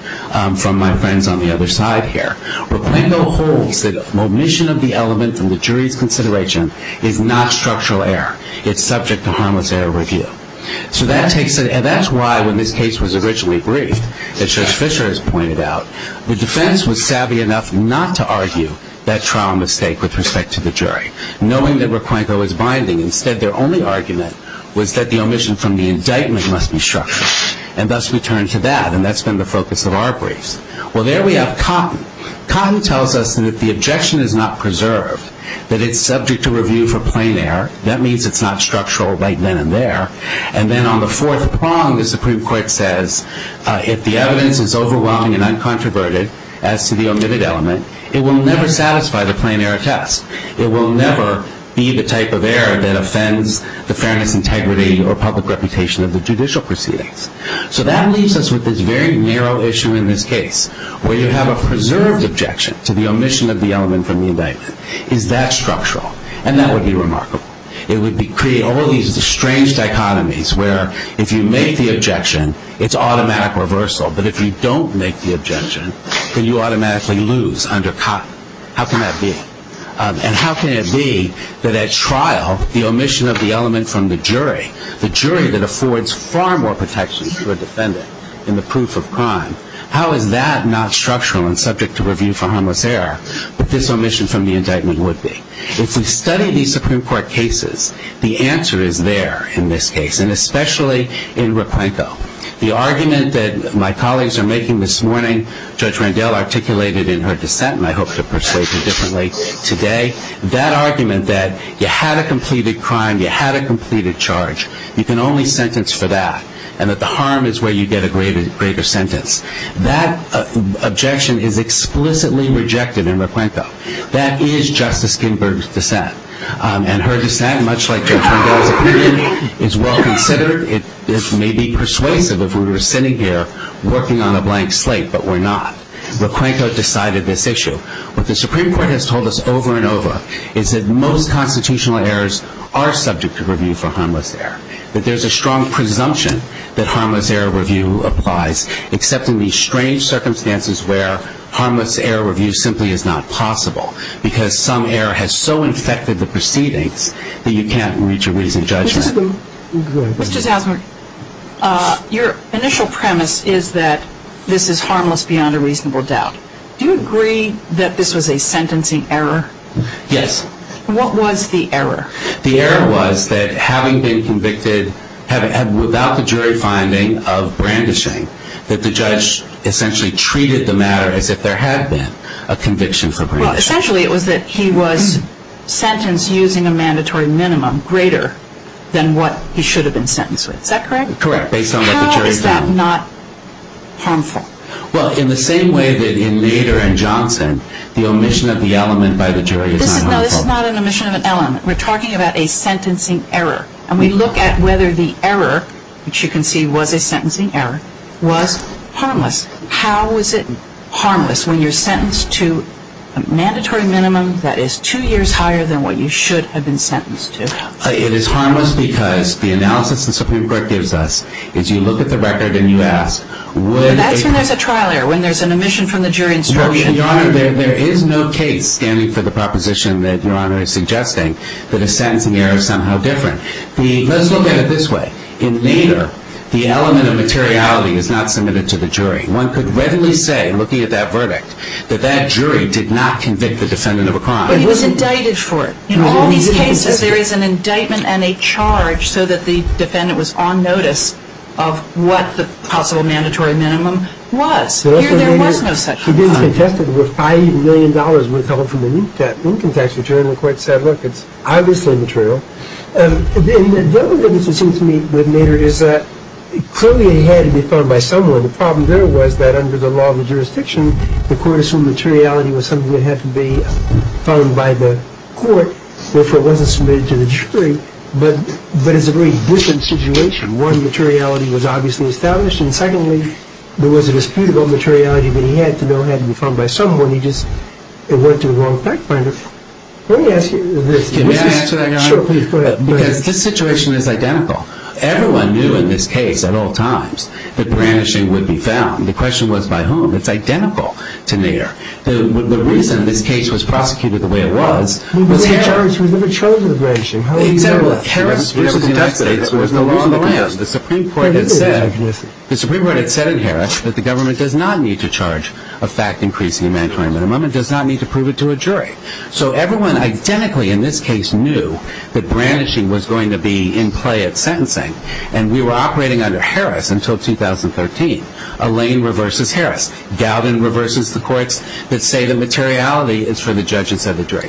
from my friends on the other side here. Roquenco holds that omission of the element from the jury's consideration is not structural error. It's subject to harmless error review. And that's why, when this case was originally briefed, as Judge Fischer has pointed out, the defense was savvy enough not to argue that trial mistake with respect to the jury, knowing that Roquenco was binding. Instead, their only argument was that the omission from the indictment must be structural. And thus we turn to that, and that's been the focus of our briefs. Well, there we have Cotton. Cotton tells us that if the objection is not preserved, that it's subject to review for plain error. That means it's not structural right then and there. And then on the fourth prong, the Supreme Court says, if the evidence is overwhelming and uncontroverted as to the omitted element, it will never satisfy the plain error test. It will never be the type of error that offends the fairness, integrity, or public reputation of the judicial proceedings. So that leaves us with this very narrow issue in this case, where you have a preserved objection to the omission of the element from the indictment. Is that structural? And that would be remarkable. It would create all these strange dichotomies where, if you make the objection, it's automatic reversal. But if you don't make the objection, then you automatically lose under Cotton. How can that be? And how can it be that at trial, the omission of the element from the jury, the jury that affords far more protections to a defendant in the proof of crime, how is that not structural and subject to review for harmless error, what this omission from the indictment would be? If you study these Supreme Court cases, the answer is there in this case, and especially in Rapenko. The argument that my colleagues are making this morning, Judge Randell articulated in her dissent, and I hope to persuade her differently today, that argument that you had a completed crime, you had a completed charge, you can only sentence for that, and that the harm is where you get a greater sentence, that objection is explicitly rejected in Rapenko. That is Justice Ginsburg's dissent. And her dissent, much like Judge Randell's opinion, is well considered. It may be persuasive if we were sitting here working on a blank slate, but we're not. Rapenko decided this issue. What the Supreme Court has told us over and over is that most constitutional errors are subject to review for harmless error, that there's a strong presumption that harmless error review applies, except in these strange circumstances where harmless error review simply is not possible because some error has so infected the proceedings that you can't reach a reasonable judgment. Your initial premise is that this is harmless beyond a reasonable doubt. Do you agree that this was a sentencing error? Yes. What was the error? The error was that having been convicted without the jury finding of brandishing, that the judge essentially treated the matter as if there had been a conviction for brandishing. Well, essentially it was that he was sentenced using a mandatory minimum, greater than what he should have been sentenced with. Is that correct? Correct. How is that not harmful? Well, in the same way that in Nader and Johnson, the omission of the element by the jury is not harmful. No, this is not an omission of an element. We're talking about a sentencing error. And we look at whether the error, which you can see was a sentencing error, was harmless. How is it harmless when you're sentenced to a mandatory minimum that is two years higher than what you should have been sentenced to? It is harmless because the analysis the Supreme Court gives us, if you look at the record and you ask, would a... That's when there's a trial error, when there's an omission from the jury. Your Honor, there is no case standing for the proposition that Your Honor is suggesting that a sentencing error is somehow different. Let's look at it this way. In Nader, the element of materiality is not submitted to the jury. One could readily say, looking at that verdict, that that jury did not convict the defendant of a crime. But he was indicted for it. In all these cases, there is an indictment and a charge so that the defendant was on notice of what the possible mandatory minimum was. Here, there was no such a crime. It was contested with $5 million worth of income tax return. The court said, look, it's obviously material. The other thing that seems to me with Nader is that clearly it had to be found by someone. The problem there was that under the law of the jurisdiction, the court assumed materiality was something that had to be found by the court, therefore it wasn't submitted to the jury. But it's a very different situation. One, materiality was obviously established. And finally, there was a disputable materiality that he had to know had to be found by someone. He just went to the wrong fact finder. Can I answer that, Your Honor? Because his situation is identical. Everyone knew in this case at all times that brandishing would be found. The question was by whom. It's identical to Nader. The reason this case was prosecuted the way it was was because the Supreme Court had said in Harris that the government does not need to charge a fact increasing mandatory minimum. It does not need to prove it to a jury. So everyone identically in this case knew that brandishing was going to be in play at sentencing. And we were operating under Harris until 2013. Alain reverses Harris. Galvin reverses the courts that say the materiality is for the judge instead of the jury.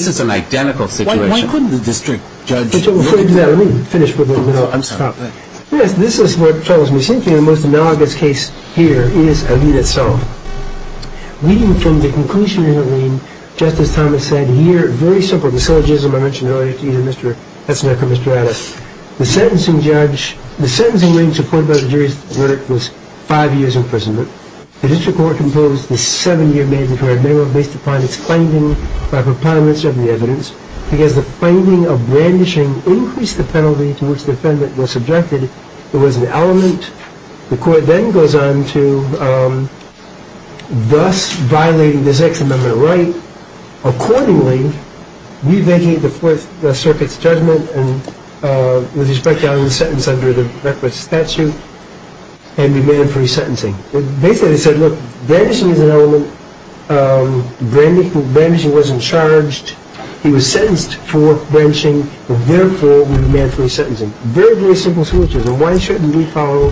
This is an identical situation. Why couldn't the district judge? Let me finish with this. This is what follows me. The most analogous case here is Alin itself. We came to a conclusion in Alin just as Thomas said here. Very simple. The syllogism I mentioned earlier to you, Mr. Kessler and Mr. Adams. The sentencing judge, the sentencing judge appointed by the jury's verdict was five years imprisonment. The district court composed a seven-year minimum based upon its findings by proponents of the evidence. Because the finding of brandishing increased the penalty to which the defendant was subjected. It was an element. The court then goes on to thus violating the section of the right accordingly, revenging the Fourth Circuit's judgment with respect to Alin's sentence under the reckless statute and demand free sentencing. Basically, they said, look, brandishing is an element. Brandishing wasn't charged. He was sentenced for brandishing. Therefore, we demand free sentencing. Very, very simple syllogism. Why shouldn't we follow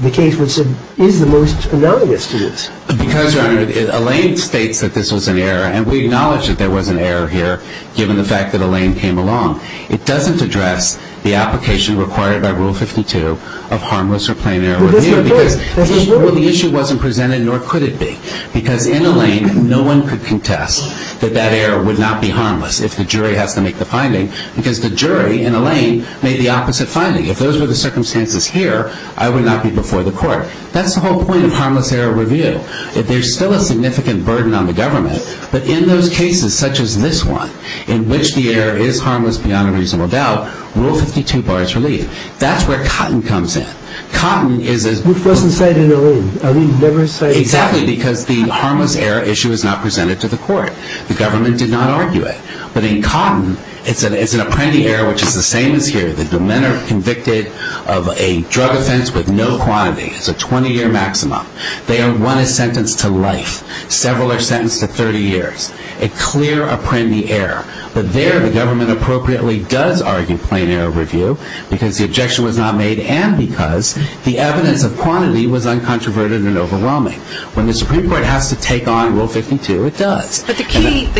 the case that is the most analogous to this? Because, Your Honor, Alin states that this was an error. And we acknowledge that there was an error here given the fact that Alin came along. It doesn't address the application required by Rule 52 of harmless or plain error. The issue wasn't presented, nor could it be. Because in Alin, no one could contest that that error would not be harmless if the jury had to make the finding because the jury in Alin made the opposite finding. If those were the circumstances here, I would not be before the court. That's the whole point of harmless error review. If there's still a significant burden on the government, but in those cases, such as this one, in which the error is harmless beyond a reasonable doubt, Rule 52 bars relief. That's where Cotton comes in. Cotton is a — Who doesn't say it in Alin? Alin never says — Exactly, because the harmless error issue is not presented to the court. The government did not argue it. But in Cotton, it's an apprendi error, which is the same as here. The defendant is convicted of a drug offense with no quantity. It's a 20-year maximum. They are one sentence to life, several are sentenced to 30 years. A clear apprendi error. But there, the government appropriately does argue plain error review because the objection was not made and because the evidence of quantity was uncontroverted and overwhelming. When the Supreme Court has to take on Rule 52, it does. But the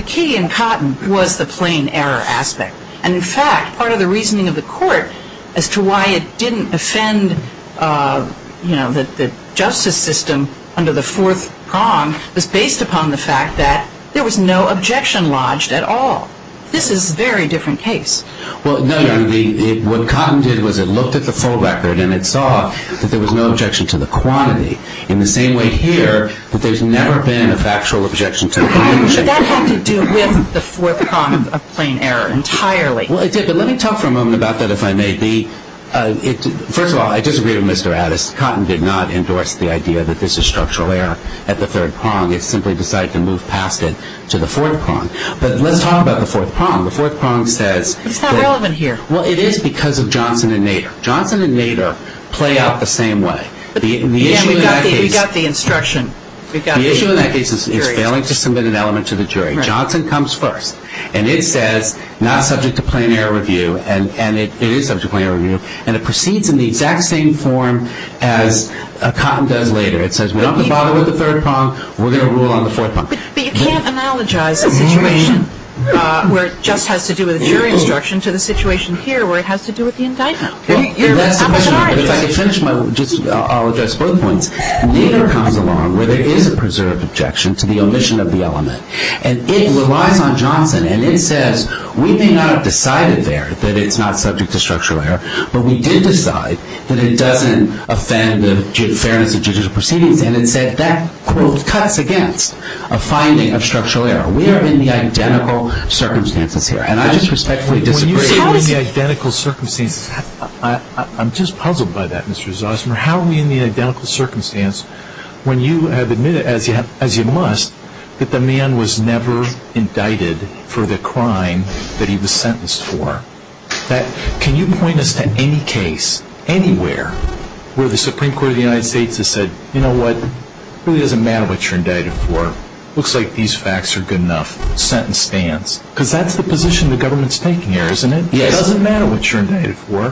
key in Cotton was the plain error aspect. And, in fact, part of the reasoning of the court as to why it didn't offend the justice system under the fourth prong was based upon the fact that there was no objection lodged at all. This is a very different case. Well, no. What Cotton did was it looked at the full record and it saw that there was no objection to the quantity. In the same way here, that there's never been a factual objection to the quantity. That has to do with the fourth prong of plain error entirely. Well, let me talk for a moment about that, if I may. First of all, I disagree with Mr. Addis. Cotton did not endorse the idea that this is structural error at the third prong. It simply decided to move past it to the fourth prong. But let's talk about the fourth prong. The fourth prong says that... It's not relevant here. Well, it is because of Johnson and Nader. Johnson and Nader play out the same way. You've got the instruction. It's failing to submit an element to the jury. Johnson comes first. And it says, not subject to plain error review. And it is subject to plain error review. And it proceeds in the exact same form as Cotton does later. It says, we don't bother with the third prong. We're going to rule on the fourth prong. But you can't analogize a situation where it just has to do with a jury instruction to the situation here where it has to do with the indictment. I'll address both points. Nader comes along where there is a preserved objection to the omission of the element. And it relies on Johnson. And it says, we may not have decided there that it's not subject to structural error. But we did decide that it doesn't offend the fairness of judicial proceedings. And it says that, quote, cuts against a finding of structural error. We are in the identical circumstances here. I'm just puzzled by that, Mr. Zossner. How are we in the identical circumstance when you have admitted, as you must, that the man was never indicted for the crime that he was sentenced for? Can you point us to any case anywhere where the Supreme Court of the United States has said, you know what, it really doesn't matter what you're indicted for. It looks like these facts are good enough. Sentence stands. Because that's the position the government's taking here, isn't it? It doesn't matter what you're indicted for.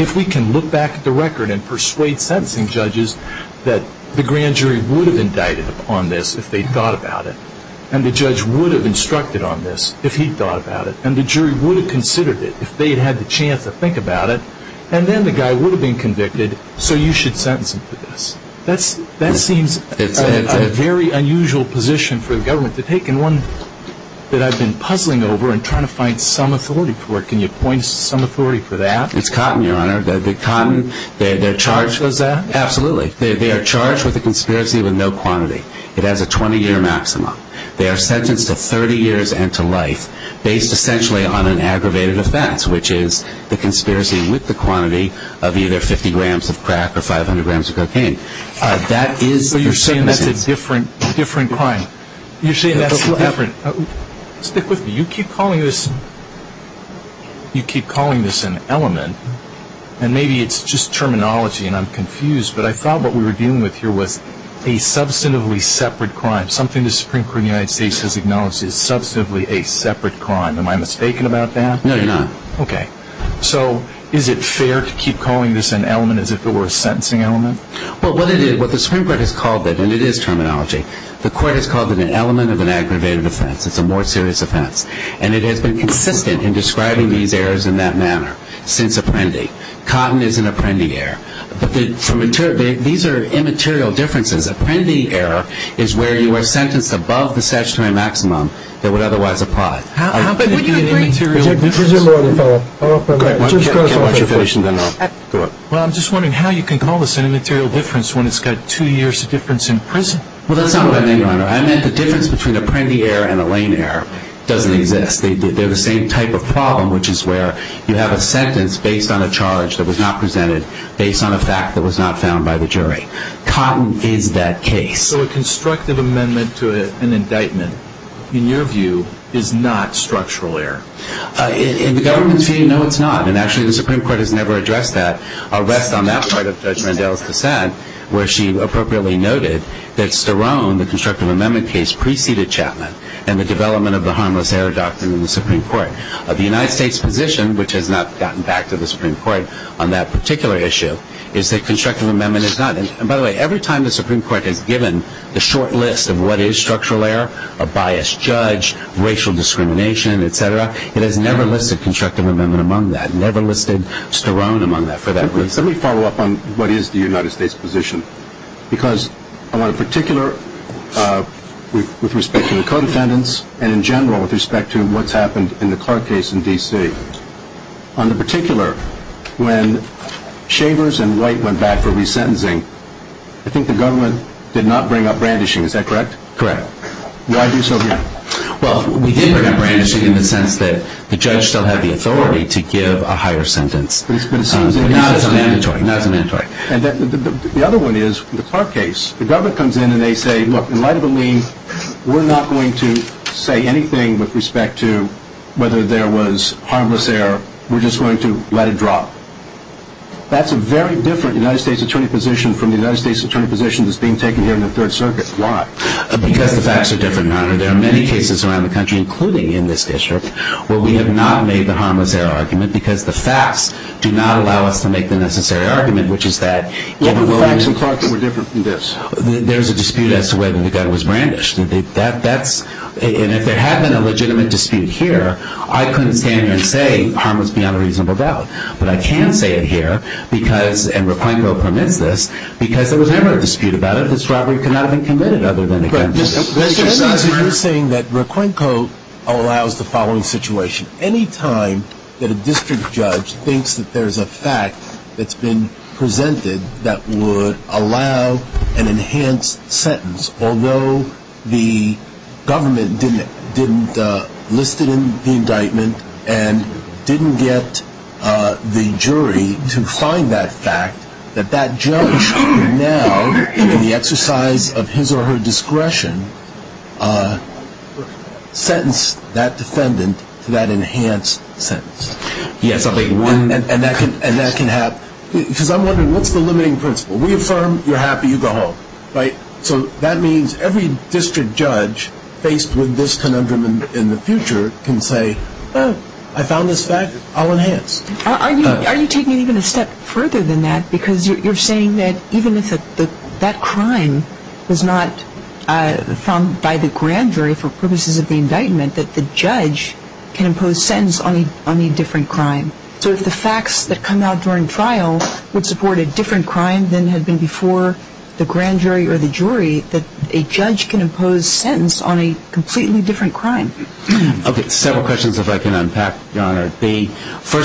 If we can look back at the record and persuade sentencing judges that the grand jury would have indicted on this if they thought about it, and the judge would have instructed on this if he thought about it, and the jury would have considered it if they had had the chance to think about it, and then the guy would have been convicted, so you should sentence him for this. That seems a very unusual position for the government to take, and one that I've been puzzling over and trying to find some authority for it. Can you point some authority for that? It's cotton, Your Honor. Cotton, they're charged with that. Absolutely. They are charged with a conspiracy with no quantity. It has a 20-year maximum. They are sentenced to 30 years and to life based essentially on an aggravated offense, which is the conspiracy with the quantity of either 50 grams of crack or 500 grams of cocaine. So you're saying that's a different crime. You keep calling this an element, and maybe it's just terminology and I'm confused, but I thought what we were dealing with here was a substantively separate crime, something the Supreme Court of the United States has acknowledged is substantively a separate crime. Am I mistaken about that? No, you're not. Okay. So is it fair to keep calling this an element as if it were a sentencing element? Well, what it is, what the Supreme Court has called it, and it is terminology, the court has called it an element of an aggravated offense. It's a more serious offense. And it has been consistent in describing these errors in that manner since Apprendi. Cotton is an Apprendi error. These are immaterial differences. Apprendi error is where you are sentenced above the statutory maximum that would otherwise apply. How can it be an immaterial difference? We have a prisoner on the phone. Just press OK. Well, I'm just wondering how you can call this an immaterial difference when it's got two years difference in prison. Well, that's not what I meant, Your Honor. I meant the difference between Apprendi error and Elaine error doesn't exist. They're the same type of problem, which is where you have a sentence based on a charge that was not presented, based on a fact that was not found by the jury. Cotton is that case. So a constructive amendment to an indictment, in your view, is not structural error. In the government case, no, it's not. And actually the Supreme Court has never addressed that. I'll rest on that part of Judge Mandela's dissent where she appropriately noted that Saron, the constructive amendment case, preceded Chapman and the development of the harmless error doctrine in the Supreme Court. The United States position, which has not gotten back to the Supreme Court on that particular issue, is that constructive amendment is not. And by the way, every time the Supreme Court has given the short list of what is structural error, a biased judge, racial discrimination, et cetera, it has never listed constructive amendment among that, never listed Saron among that for that reason. Let me follow up on what is the United States position. Because on a particular, with respect to the co-defendants, and in general with respect to what's happened in the Clark case in D.C., on the particular, when Chambers and Wright went back for resentencing, I think the government did not bring up brandishing, is that correct? Correct. Why do so here? Well, we did bring up brandishing in the sense that the judge still had the authority to give a higher sentence. But it's not a mandatory. Not a mandatory. And the other one is, in the Clark case, the government comes in and they say, look, in light of the lien, we're not going to say anything with respect to whether there was harmless error. We're just going to let it drop. That's a very different United States attorney position from the United States attorney position that's being taken here in the Third Circuit. Why? Because the facts are different, Your Honor. There are many cases around the country, including in this district, where we have not made the harmless error argument because the facts do not allow us to make the necessary argument, which is that over the life of Clark it was different from this. There's a dispute as to whether the gun was brandished. And if there had been a legitimate dispute here, I couldn't stand here and say, harmless beyond a reasonable doubt. But I can say it here, and Raquenco permits this, because there was never a dispute about it. This robbery could not have been committed other than the gun was brandished. You're saying that Raquenco allows the following situation. Anytime that a district judge thinks that there's a fact that's been presented that would allow an enhanced sentence, although the government didn't list it in the indictment and didn't get the jury to find that fact, that that judge can now, in the exercise of his or her discretion, sentence that defendant to that enhanced sentence. Yes, and that can happen. Because I'm wondering, what's the limiting principle? We affirm, you're happy, you go home, right? So that means every district judge faced with this conundrum in the future can say, oh, I found this fact, I'll enhance. Are you taking it even a step further than that? Because you're saying that even if that crime was not found by the grand jury for purposes of the indictment, that the judge can impose sentence on a different crime. So if the facts that come out during trial would support a different crime than had been before the grand jury or the jury, that a judge can impose sentence on a completely different crime. First of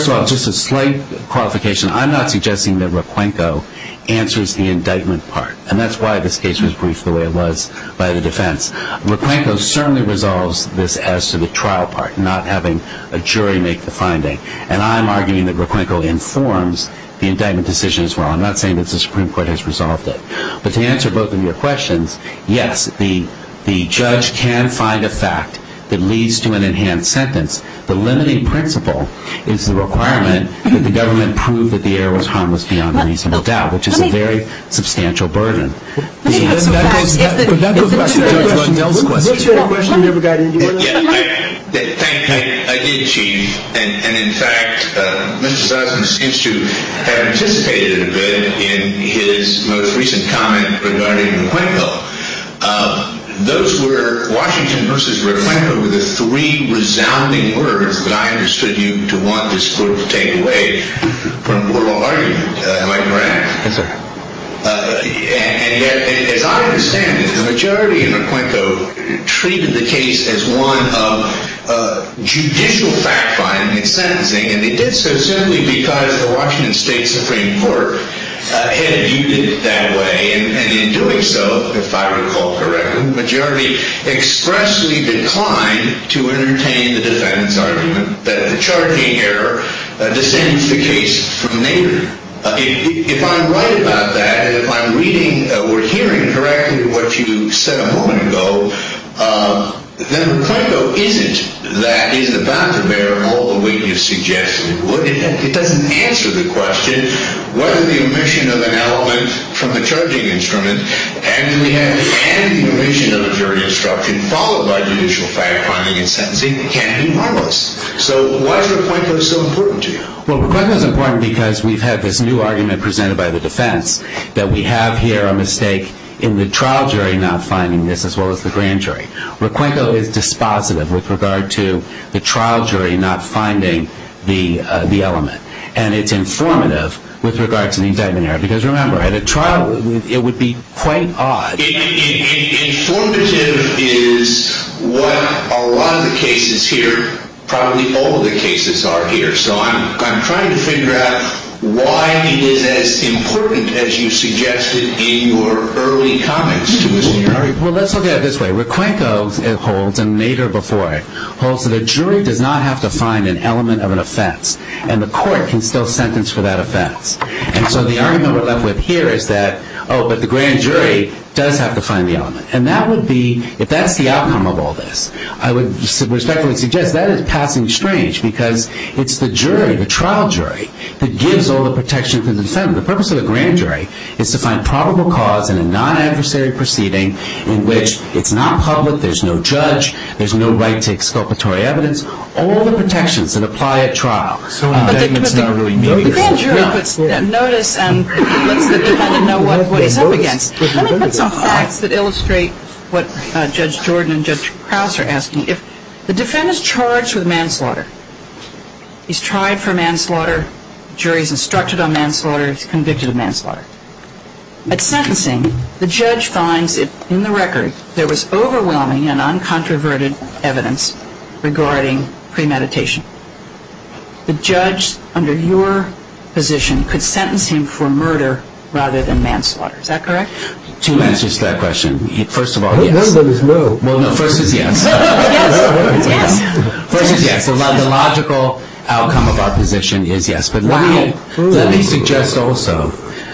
all, just a slight clarification. I'm not suggesting that Raquenco answers the indictment part. And that's why this case was briefed the way it was by the defense. Raquenco certainly resolves this as to the trial part, not having a jury make the finding. And I'm arguing that Raquenco informs the indictment decision as well. I'm not saying that the Supreme Court has resolved it. But to answer both of your questions, yes, the judge can find a fact that leads to an enhanced sentence. The limiting principle is the requirement that the government prove that the error was harmless beyond a reasonable doubt, which is a very substantial burden. That's a good question. That's a good question. I did cheat. And, in fact, Mr. Doddson seems to have participated in his most recent comments regarding Raquenco. Those were Washington versus Raquenco were the three resounding words that I understood you to want this court to take away. We're all arguing, Mike Moran. That's right. And yet, as I understand it, the majority in Raquenco treated the case as one of judicial fact-finding and sentencing. And so certainly we thought that the Washington State Supreme Court had adjudicated it that way, and in doing so, if I recall correctly, the majority expressly declined to entertain the defense argument that the charging error descends the case from the neighbor. If I'm right about that, if I'm reading or hearing correctly what you said a moment ago, then Raquenco isn't that in the doctrine there all the way you suggested it would. It doesn't answer the question, what is the omission of an element from the charging instrument, and the omission of the jury's doctrine followed by judicial fact-finding and sentencing can be harmless. So why is Raquenco so important to you? Well, Raquenco is important because we've had this new argument presented by the defense that we have here a mistake in the trial jury not finding this as well as the grand jury. Raquenco is dispositive with regard to the trial jury not finding the element, and it's informative with regard to the indictment error. Because remember, in a trial, it would be quite odd. It's informative is what a lot of the cases here, probably all of the cases are here. So I'm trying to figure out why it is as important as you suggested in your early comments. Well, let's look at it this way. Raquenco holds, and Nader before it, holds that a jury does not have to find an element of an offense, and the court can still sentence for that offense. And so the argument we're left with here is that, oh, but the grand jury does have to find the element. And that would be, if that's the outcome of all this, I would respectfully suggest that is passing strange because it's the jury, the trial jury, that gives all the protections and incentives. The purpose of a grand jury is to find probable cause in a non-adversary proceeding in which it's not public, there's no judge, there's no right to exculpatory evidence, all the protections that apply at trial. So on that, it's not really me. The grand jury puts that notice, and the jury doesn't know what it's up against. To illustrate what Judge Jordan and Judge Krause are asking, if the defendant is charged with manslaughter, he's tried for manslaughter, jury's instructed on manslaughter, he's convicted of manslaughter. At sentencing, the judge finds that in the record, there was overwhelming and uncontroverted evidence regarding premeditation. The judge, under your position, could sentence him for murder rather than manslaughter. Is that correct? Two answers to that question. First of all, yes. The logical outcome of our position is yes. But let me suggest also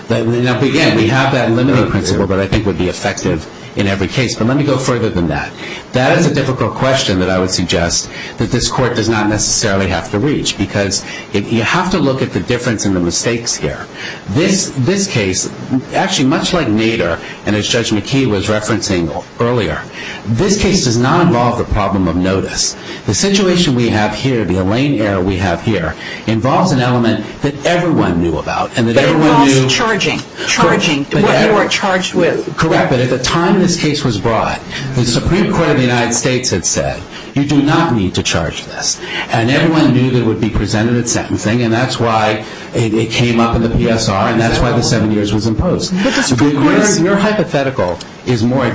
that, again, we have that liminal principle that I think would be effective in every case. But let me go further than that. That is a difficult question that I would suggest that this court does not necessarily have to reach because you have to look at the difference in the mistakes here. This case, actually much like Nader and as Judge McKee was referencing earlier, this case does not involve a problem of notice. The situation we have here, the Elaine error we have here, involves an element that everyone knew about and that everyone knew. Charging. Charging. What you were charged with. Correct. But at the time this case was brought, the Supreme Court of the United States had said, you do not need to charge this. And everyone knew that it would be presented as sentencing, and that's why it came up in the PSR and that's why the seven years was imposed. Your hypothetical is more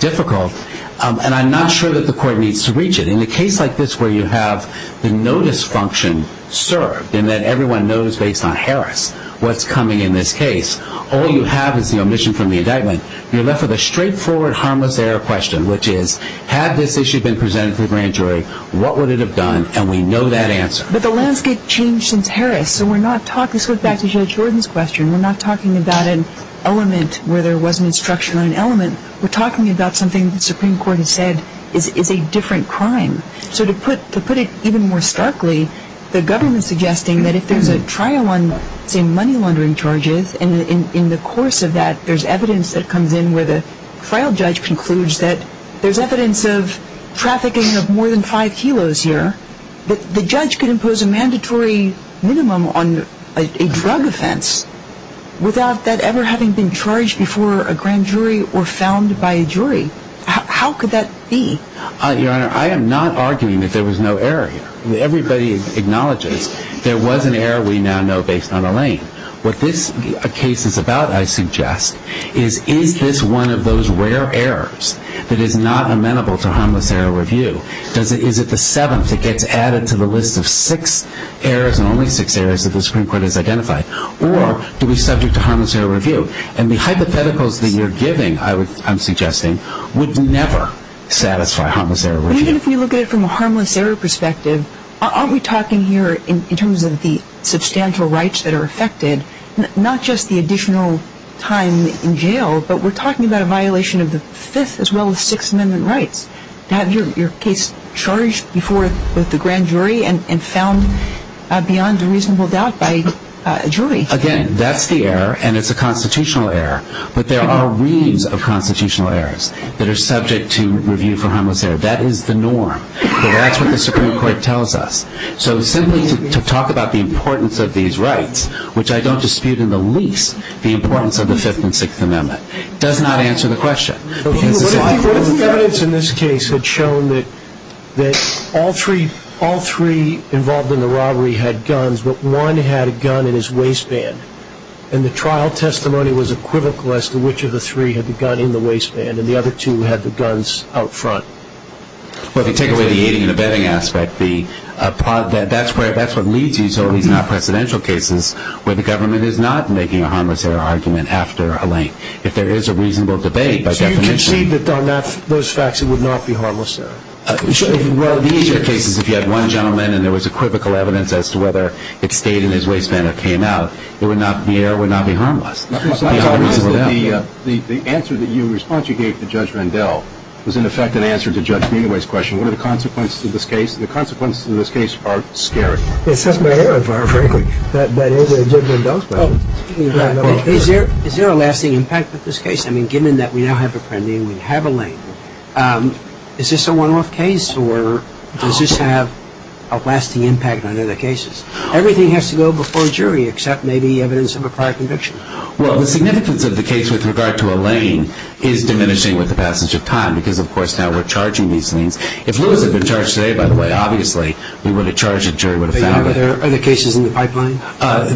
difficult, and I'm not sure that the court needs to reach it. In a case like this where you have the notice function served in that everyone knows based on Harris what's coming in this case, all you have is the omission from the indictment. You're left with a straightforward harmless error question, which is, had this issue been presented to a grand jury, what would it have done? And we know that answer. But the landscape changed since Harris, so we're not talking, so let's go back to Judge Jordan's question, we're not talking about an element where there wasn't a structure or an element. We're talking about something the Supreme Court had said is a different crime. So to put it even more starkly, the government is suggesting that if there's a trial on, say, money laundering charges, and in the course of that, there's evidence that comes in where the trial judge concludes that there's evidence of trafficking of more than five kilos here, that the judge can impose a mandatory minimum on a drug offense without that ever having been charged before a grand jury or found by a jury. How could that be? Your Honor, I am not arguing that there was no error here. Everybody acknowledges there was an error we now know based on a lane. What this case is about, I suggest, is is this one of those rare errors that is not amenable to harmless error review? Is it the seventh that gets added to the list of six errors, and only six errors that the Supreme Court has identified, or do we subject to harmless error review? And the hypotheticals that you're giving, I'm suggesting, would never satisfy harmless error review. Even if we look at it from a harmless error perspective, aren't we talking here in terms of the substantial rights that are affected, not just the additional time in jail, but we're talking about a violation of the Fifth as well as Sixth Amendment rights to have your case charged before the grand jury and found beyond a reasonable doubt by a jury. Again, that's the error, and it's a constitutional error. But there are reads of constitutional errors that are subject to review for harmless error. That is the norm. That's what the Supreme Court tells us. So simply to talk about the importance of these rights, which I don't dispute in the least the importance of the Fifth and Sixth Amendments, does not answer the question. What if the evidence in this case had shown that all three involved in the robbery had guns, but one had a gun in his waistband, and the trial testimony was equivocal as to which of the three had the gun in the waistband, and the other two had the guns out front? Well, if you take away the aiding and abetting aspect, that's what needs to be shown in our presidential cases where the government is not making a harmless error argument after a length. If there is a reasonable debate by definition. So you concede that on those facts it would not be harmless error? In these cases, if you had one gentleman and there was equivocal evidence as to whether it stayed in his waistband or came out, the error would not be harmless. The answer that you responded to here to Judge Vandell was in effect an answer to Judge Meadoway's question, what are the consequences of this case? The consequences of this case are scary. It's just my error, frankly. Is there a lasting impact of this case? I mean, given that we now have a pending and we have a length, is this a one-off case or does this have a lasting impact on other cases? Everything has to go before a jury except maybe evidence of a prior conviction. Well, the significance of the case with regard to Elaine is diminishing with the passage of time because, of course, now we're charging these things. If Lewis had been charged today, by the way, obviously, we would have charged and the jury would have found it. Are there other cases in the pipeline?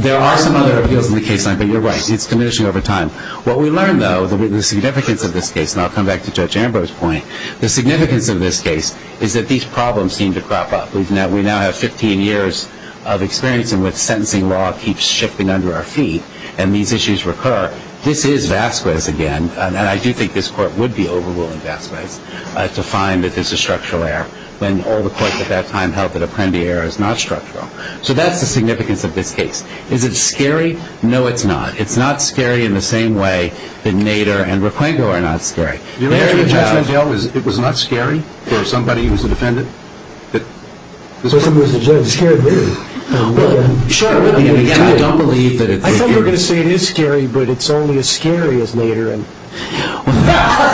There are some other appeals in the pipeline, but you're right. It's diminishing over time. What we learned, though, the significance of this case, and I'll come back to Judge Amber's point, the significance of this case is that these problems seem to crop up. We now have 15 years of experience in which sentencing law keeps shifting under our feet and these issues recur. This is Vasquez again, and I do think this court would be overruling Vasquez to find that this is a structural error, when all the courts at that time held that a plenty error is not structural. So that's the significance of this case. Is it scary? No, it's not. It's not scary in the same way that Nader and Requengo are not scary. It was not scary? There was somebody who was a defendant? I don't believe that it's scary. I think you're going to say it is scary, but it's only as scary as Nader and Requengo.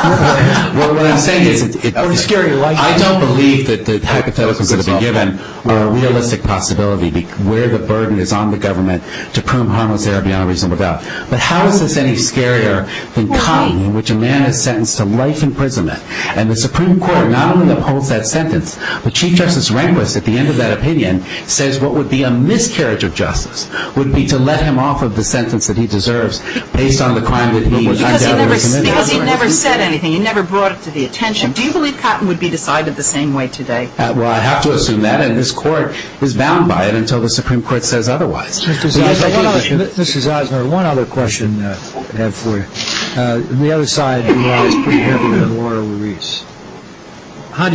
Well, what I'm saying is that I don't believe that the tactics that are going to be given are a realistic possibility where the burden is on the government to prune harmless air beyond reasonable doubt. But how is this any scarier than Cotton, in which a man is sentenced to life imprisonment, and the Supreme Court not only upholds that sentence, but Chief Justice Rehnquist, at the end of that opinion, says what would be a miscarriage of justice would be to let him off of the sentence that he deserves based on the crime that he was found to have committed. Because he never said anything. He never brought it to the attention. Do you believe Cotton would be decided the same way today? Well, I have to assume that, and this court was bound by it until the Supreme Court says otherwise. Mr. Zeisner, one other question I have for you. On the other side, you've always been interested in law release. Can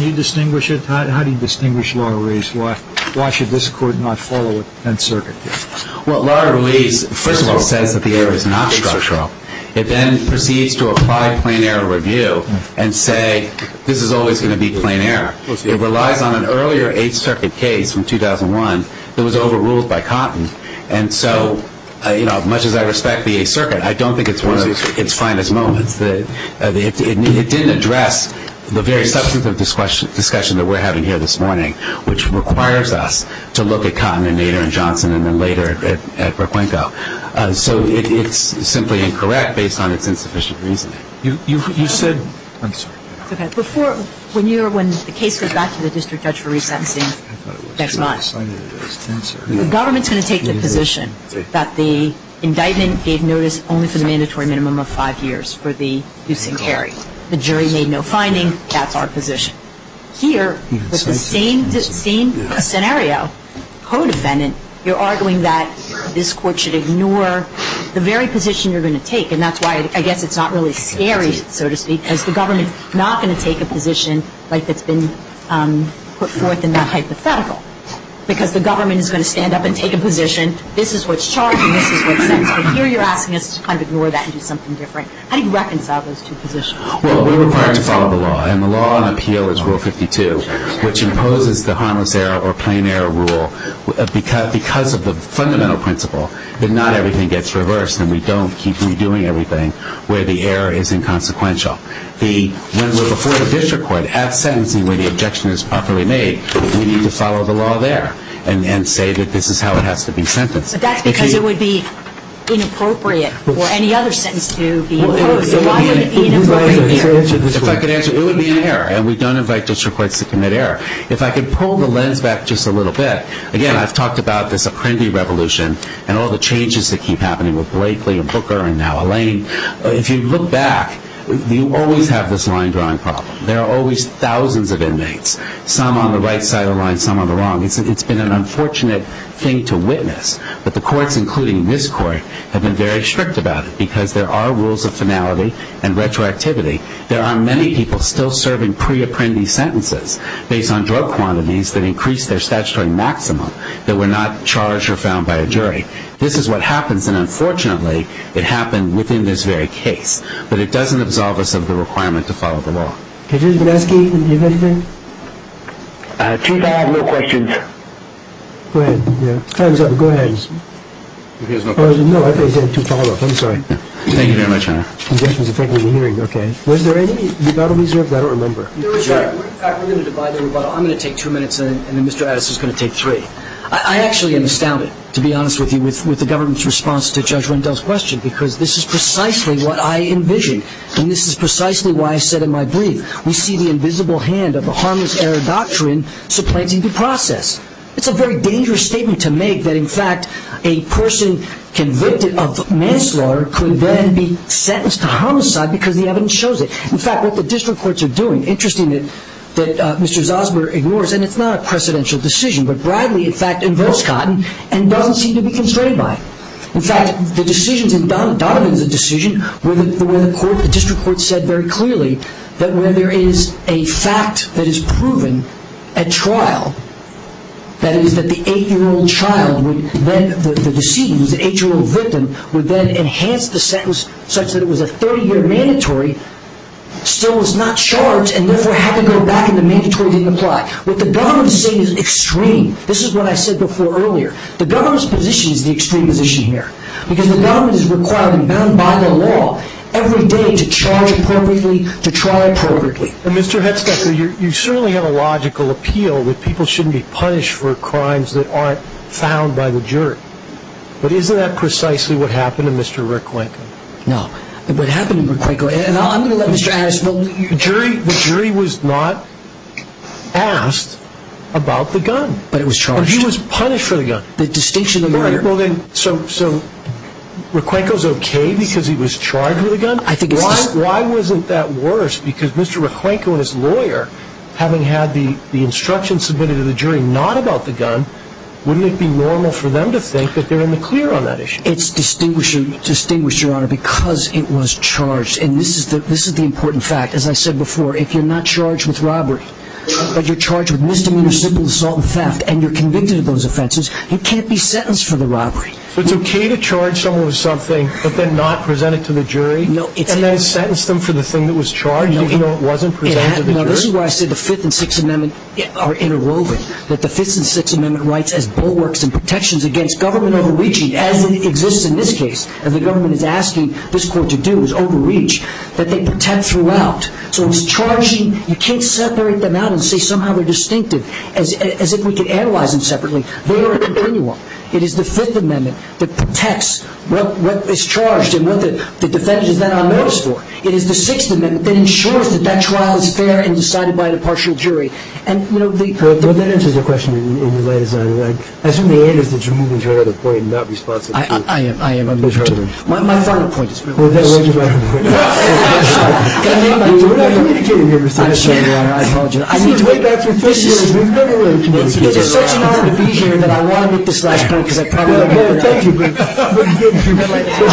you distinguish it? How do you distinguish law release? Why should this court not follow a 10th Circuit case? Well, law release, first of all, says that the air is not to be touched off. It then proceeds to apply a plain air review and say this is always going to be plain air. It relies on an earlier 8th Circuit case from 2001 that was overruled by Cotton. And so, you know, much as I respect the 8th Circuit, I don't think it's one of its finest moments. It didn't address the very subsequent discussion that we're having here this morning, which requires us to look at Cotton and Nader and Johnson and then later at Raquenco. So it's simply incorrect based on its insufficient reasoning. You said, I'm sorry. Okay. Before, when you were, when the case got to the district court for revising, the government's going to take the position that the indictment gave notice only to the mandatory minimum of five years for the use and carry. The jury made no finding. That's our position. Here, with the same scenario, co-defendant, you're arguing that this court should ignore the very position you're going to take, and that's why I guess it's not really scary, so to speak, because the government's not going to take a position like it's been put forth in that hypothetical because the government is going to stand up and take a position. This is what's charged in this case. So here you're asking us to kind of ignore that and do something different. How do you reconcile those two positions? Well, we're required to follow the law, and the law on appeal is Rule 52, which imposes the harmless error or plain error rule because of the fundamental principle that not everything gets reversed and we don't keep redoing everything where the error is inconsequential. When we're before a district court, as sentencing where the objection is properly made, we need to follow the law there and say that this is how it has to be sentenced. But that's because it would be inappropriate for any other sentence to be... If I could answer, it would be an error, and we don't invite district courts to commit error. If I could pull the lens back just a little bit, again, I've talked about this Apprendi revolution and all the changes that keep happening with Blakely and Booker and now Elaine. If you look back, you always have this line drawing problem. There are always thousands of inmates, some on the right side of the line, some on the wrong. It's been an unfortunate thing to witness, but the courts, including this court, have been very strict about it because there are rules of finality and retroactivity. There are many people still serving pre-Apprendi sentences based on drug quantities that increase their statutory maximum that were not charged or found by a jury. This is what happens, and unfortunately, it happened within this very case. But it doesn't absolve us of the requirement to follow the law. Is this the last case? Too bad. No questions. Time's up. Go ahead. No, I thought you said to follow it. I'm sorry. Thank you very much, Your Honor. Was there any... I don't remember. I'm going to take two minutes, and then Mr. Addis is going to take three. I actually am astounded, to be honest with you, with the government's response to Judge Rendell's question because this is precisely what I envisioned, and this is precisely why I said in my brief, we see the invisible hand of the harmless error doctrine supplanting the process. It's a very dangerous statement to make that, in fact, a person convicted of manslaughter could then be sentenced to homicide because the evidence shows it. In fact, what the district courts are doing, interestingly, that Mr. Zalsberg ignores, and it's not a precedential decision, but Bradley, in fact, in Breast Cotton, and Dunn seem to be concerned by it. In fact, the decision in Dunn, Dunn made the decision where the court, the district court said very clearly that when there is a fact that is proven at trial, that is, that the eight-year-old child would then, the deceased, the eight-year-old victim, would then enhance the sentence such that it was a 30-year mandatory, still was not charged, and never had to go back, and the mandatory didn't apply. What the government is saying is extreme. This is what I said before earlier. The government's position is the extreme position here because the government is required and bound by the law every day to charge appropriately, to try appropriately. Mr. Hitzkecker, you certainly have a logical appeal that people shouldn't be punished for crimes that aren't found by the jury. But isn't that precisely what happened to Mr. Requenco? No. What happened to Requenco, and I'm going to let you ask, the jury was not asked about the gun. But it was charged. He was punished for the gun. The distinction of the lawyer. Right. So Requenco's okay because he was charged with a gun? I think he was. Why wasn't that worse? Because Mr. Requenco and his lawyer, having had the instruction submitted to the jury not about the gun, wouldn't it be normal for them to think that they're in the clear on that issue? It's distinguishing, Your Honor, because it was charged. And this is the important fact. As I said before, if you're not charged with robbery, but you're charged with misdemeanor, simple assault and theft, and you're convicted of those offenses, you can't be sentenced for the robbery. But it's okay to charge someone with something but then not present it to the jury? No. And then sentence them for the thing that was charged even though it wasn't presented to the jury? Your Honor, this is why I say the Fifth and Sixth Amendments are interwoven, that the Fifth and Sixth Amendment writes as bulwarks and protections against government overreaching, as it exists in this case, as the government is asking this court to do, is overreach, that they protect throughout. So it's charging. You can't separate them out and say somehow they're distinctive as if we could analyze them separately. They are a continuum. It is the Fifth Amendment that protects what is charged and what the defense is not on notice for. It is the Sixth Amendment that ensures that that trial is fair and decided by the partial jury. Well, that answers the question in your letters, by the way. I assume the aim is that you're moving to another point and not responding. I am, I am. My final point. Okay. I apologize. I need to wait back for 15 minutes. It's been a long time. It's been such an honor to be here, and I want to make this last point because I probably won't. Thank you. There's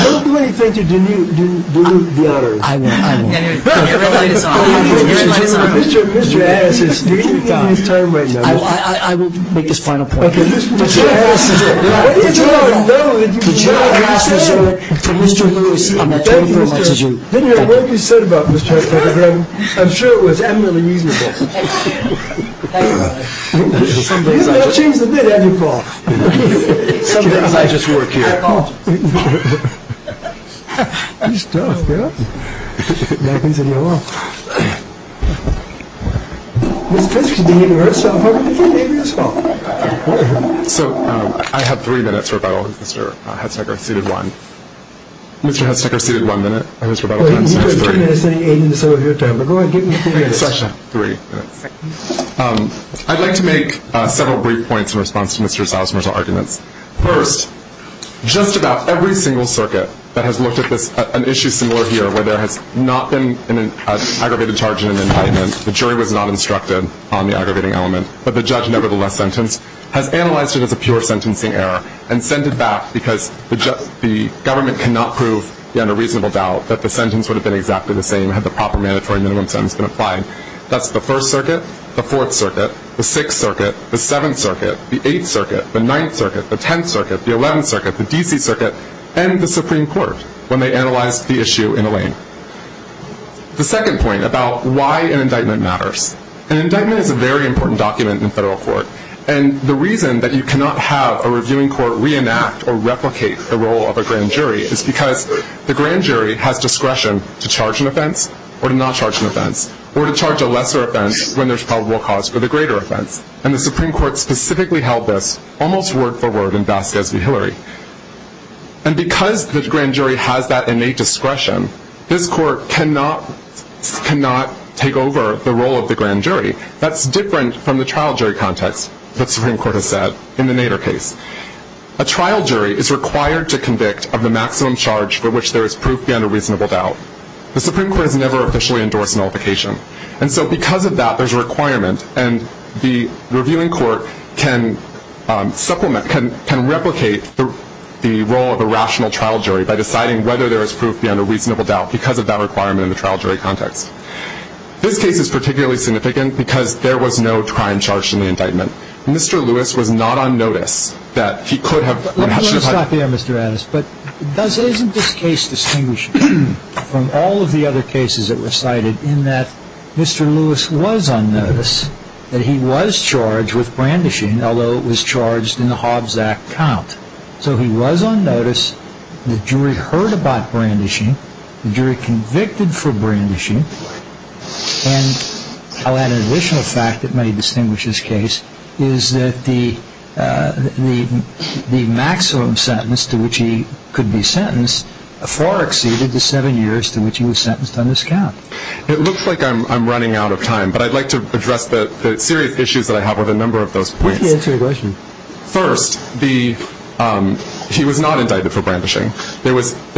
so many things that you need to do to be honored. I know. I know. Mr. Harris is taking his time right now. I will make this final point. Mr. Harris is it. I would like to make several brief points in response to Mr. Silesmer's argument. First, just about every single circuit that has looked at an issue similar here, where there has not been an aggravated charge in an indictment, the jury was not instructed on the aggravating element, but the judge nevertheless has analyzed it as a pure sentencing error and sent it back because the government cannot prove under reasonable doubt that the sentence would have been exactly the same had the proper mandatory minimum sentence been applied. That's the First Circuit, the Fourth Circuit, the Sixth Circuit, the Seventh Circuit, the Eighth Circuit, the Ninth Circuit, the Tenth Circuit, the Eleventh Circuit, the D.C. Circuit, and the Supreme Court when they analyzed the issue in a lane. The second point about why an indictment matters. An indictment is a very important document in federal court. The reason that you cannot have a reviewing court reenact or replicate the role of a grand jury is because the grand jury has discretion to charge an offense or not charge an offense or to charge a lesser offense when there is probable cause for the greater offense. The Supreme Court specifically held this almost word for word in Vasquez v. Hillary. Because this grand jury has that innate discretion, this court cannot take over the role of the grand jury. That's different from the trial jury context, the Supreme Court has said, in the Nader case. A trial jury is required to convict of the maximum charge for which there is proof beyond a reasonable doubt. The Supreme Court has never officially endorsed nullification. And so because of that, there's a requirement, and the reviewing court can supplement, can replicate the role of a rational trial jury by deciding whether there is proof beyond a reasonable doubt because of that requirement in the trial jury context. This case is particularly significant because there was no crime charged in the indictment. Mr. Lewis was not on notice that he could have... Let me stop there, Mr. Adams. But doesn't this case distinguish from all of the other cases that were cited in that Mr. Lewis was on notice that he was charged with brandishing, although it was charged in the Hobbs Act count. So he was on notice, the jury heard about brandishing, the jury convicted for brandishing, and I'll add an additional fact that may distinguish this case, is that the maximum sentence to which he could be sentenced far exceeded the seven years to which he was sentenced on this count. It looks like I'm running out of time, but I'd like to address the serious issues that I have with a number of those points. Please answer your question. First, he was not indicted for brandishing. Well, he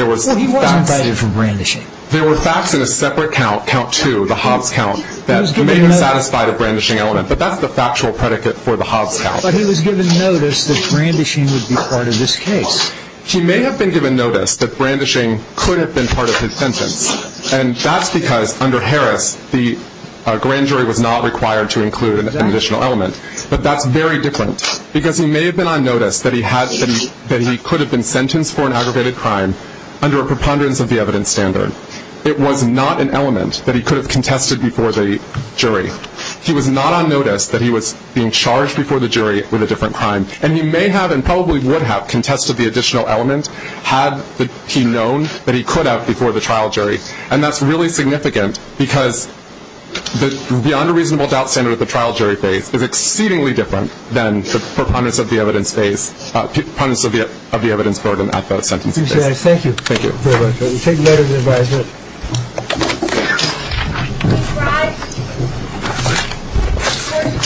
wasn't indicted for brandishing. There was facts in a separate count, count two, the Hobbs count, that may have satisfied a brandishing element, but that's the factual predicate for the Hobbs count. But he was given notice that brandishing would be part of this case. He may have been given notice that brandishing could have been part of his sentence, and that's because under Harris the grand jury was not required to include an additional element, but that's very different because he may have been on notice that he could have been sentenced for an aggravated crime under a preponderance of the evidence standard. It was not an element that he could have contested before the jury. He was not on notice that he was being charged before the jury with a different crime, and he may have and probably would have contested the additional element had he known that he could have before the trial jury, and that's really significant because the unreasonable doubt standard that the trial jury faced was exceedingly different than the preponderance of the evidence burden at that time. Thank you. Thank you very much. We'll be taking that as an advisement.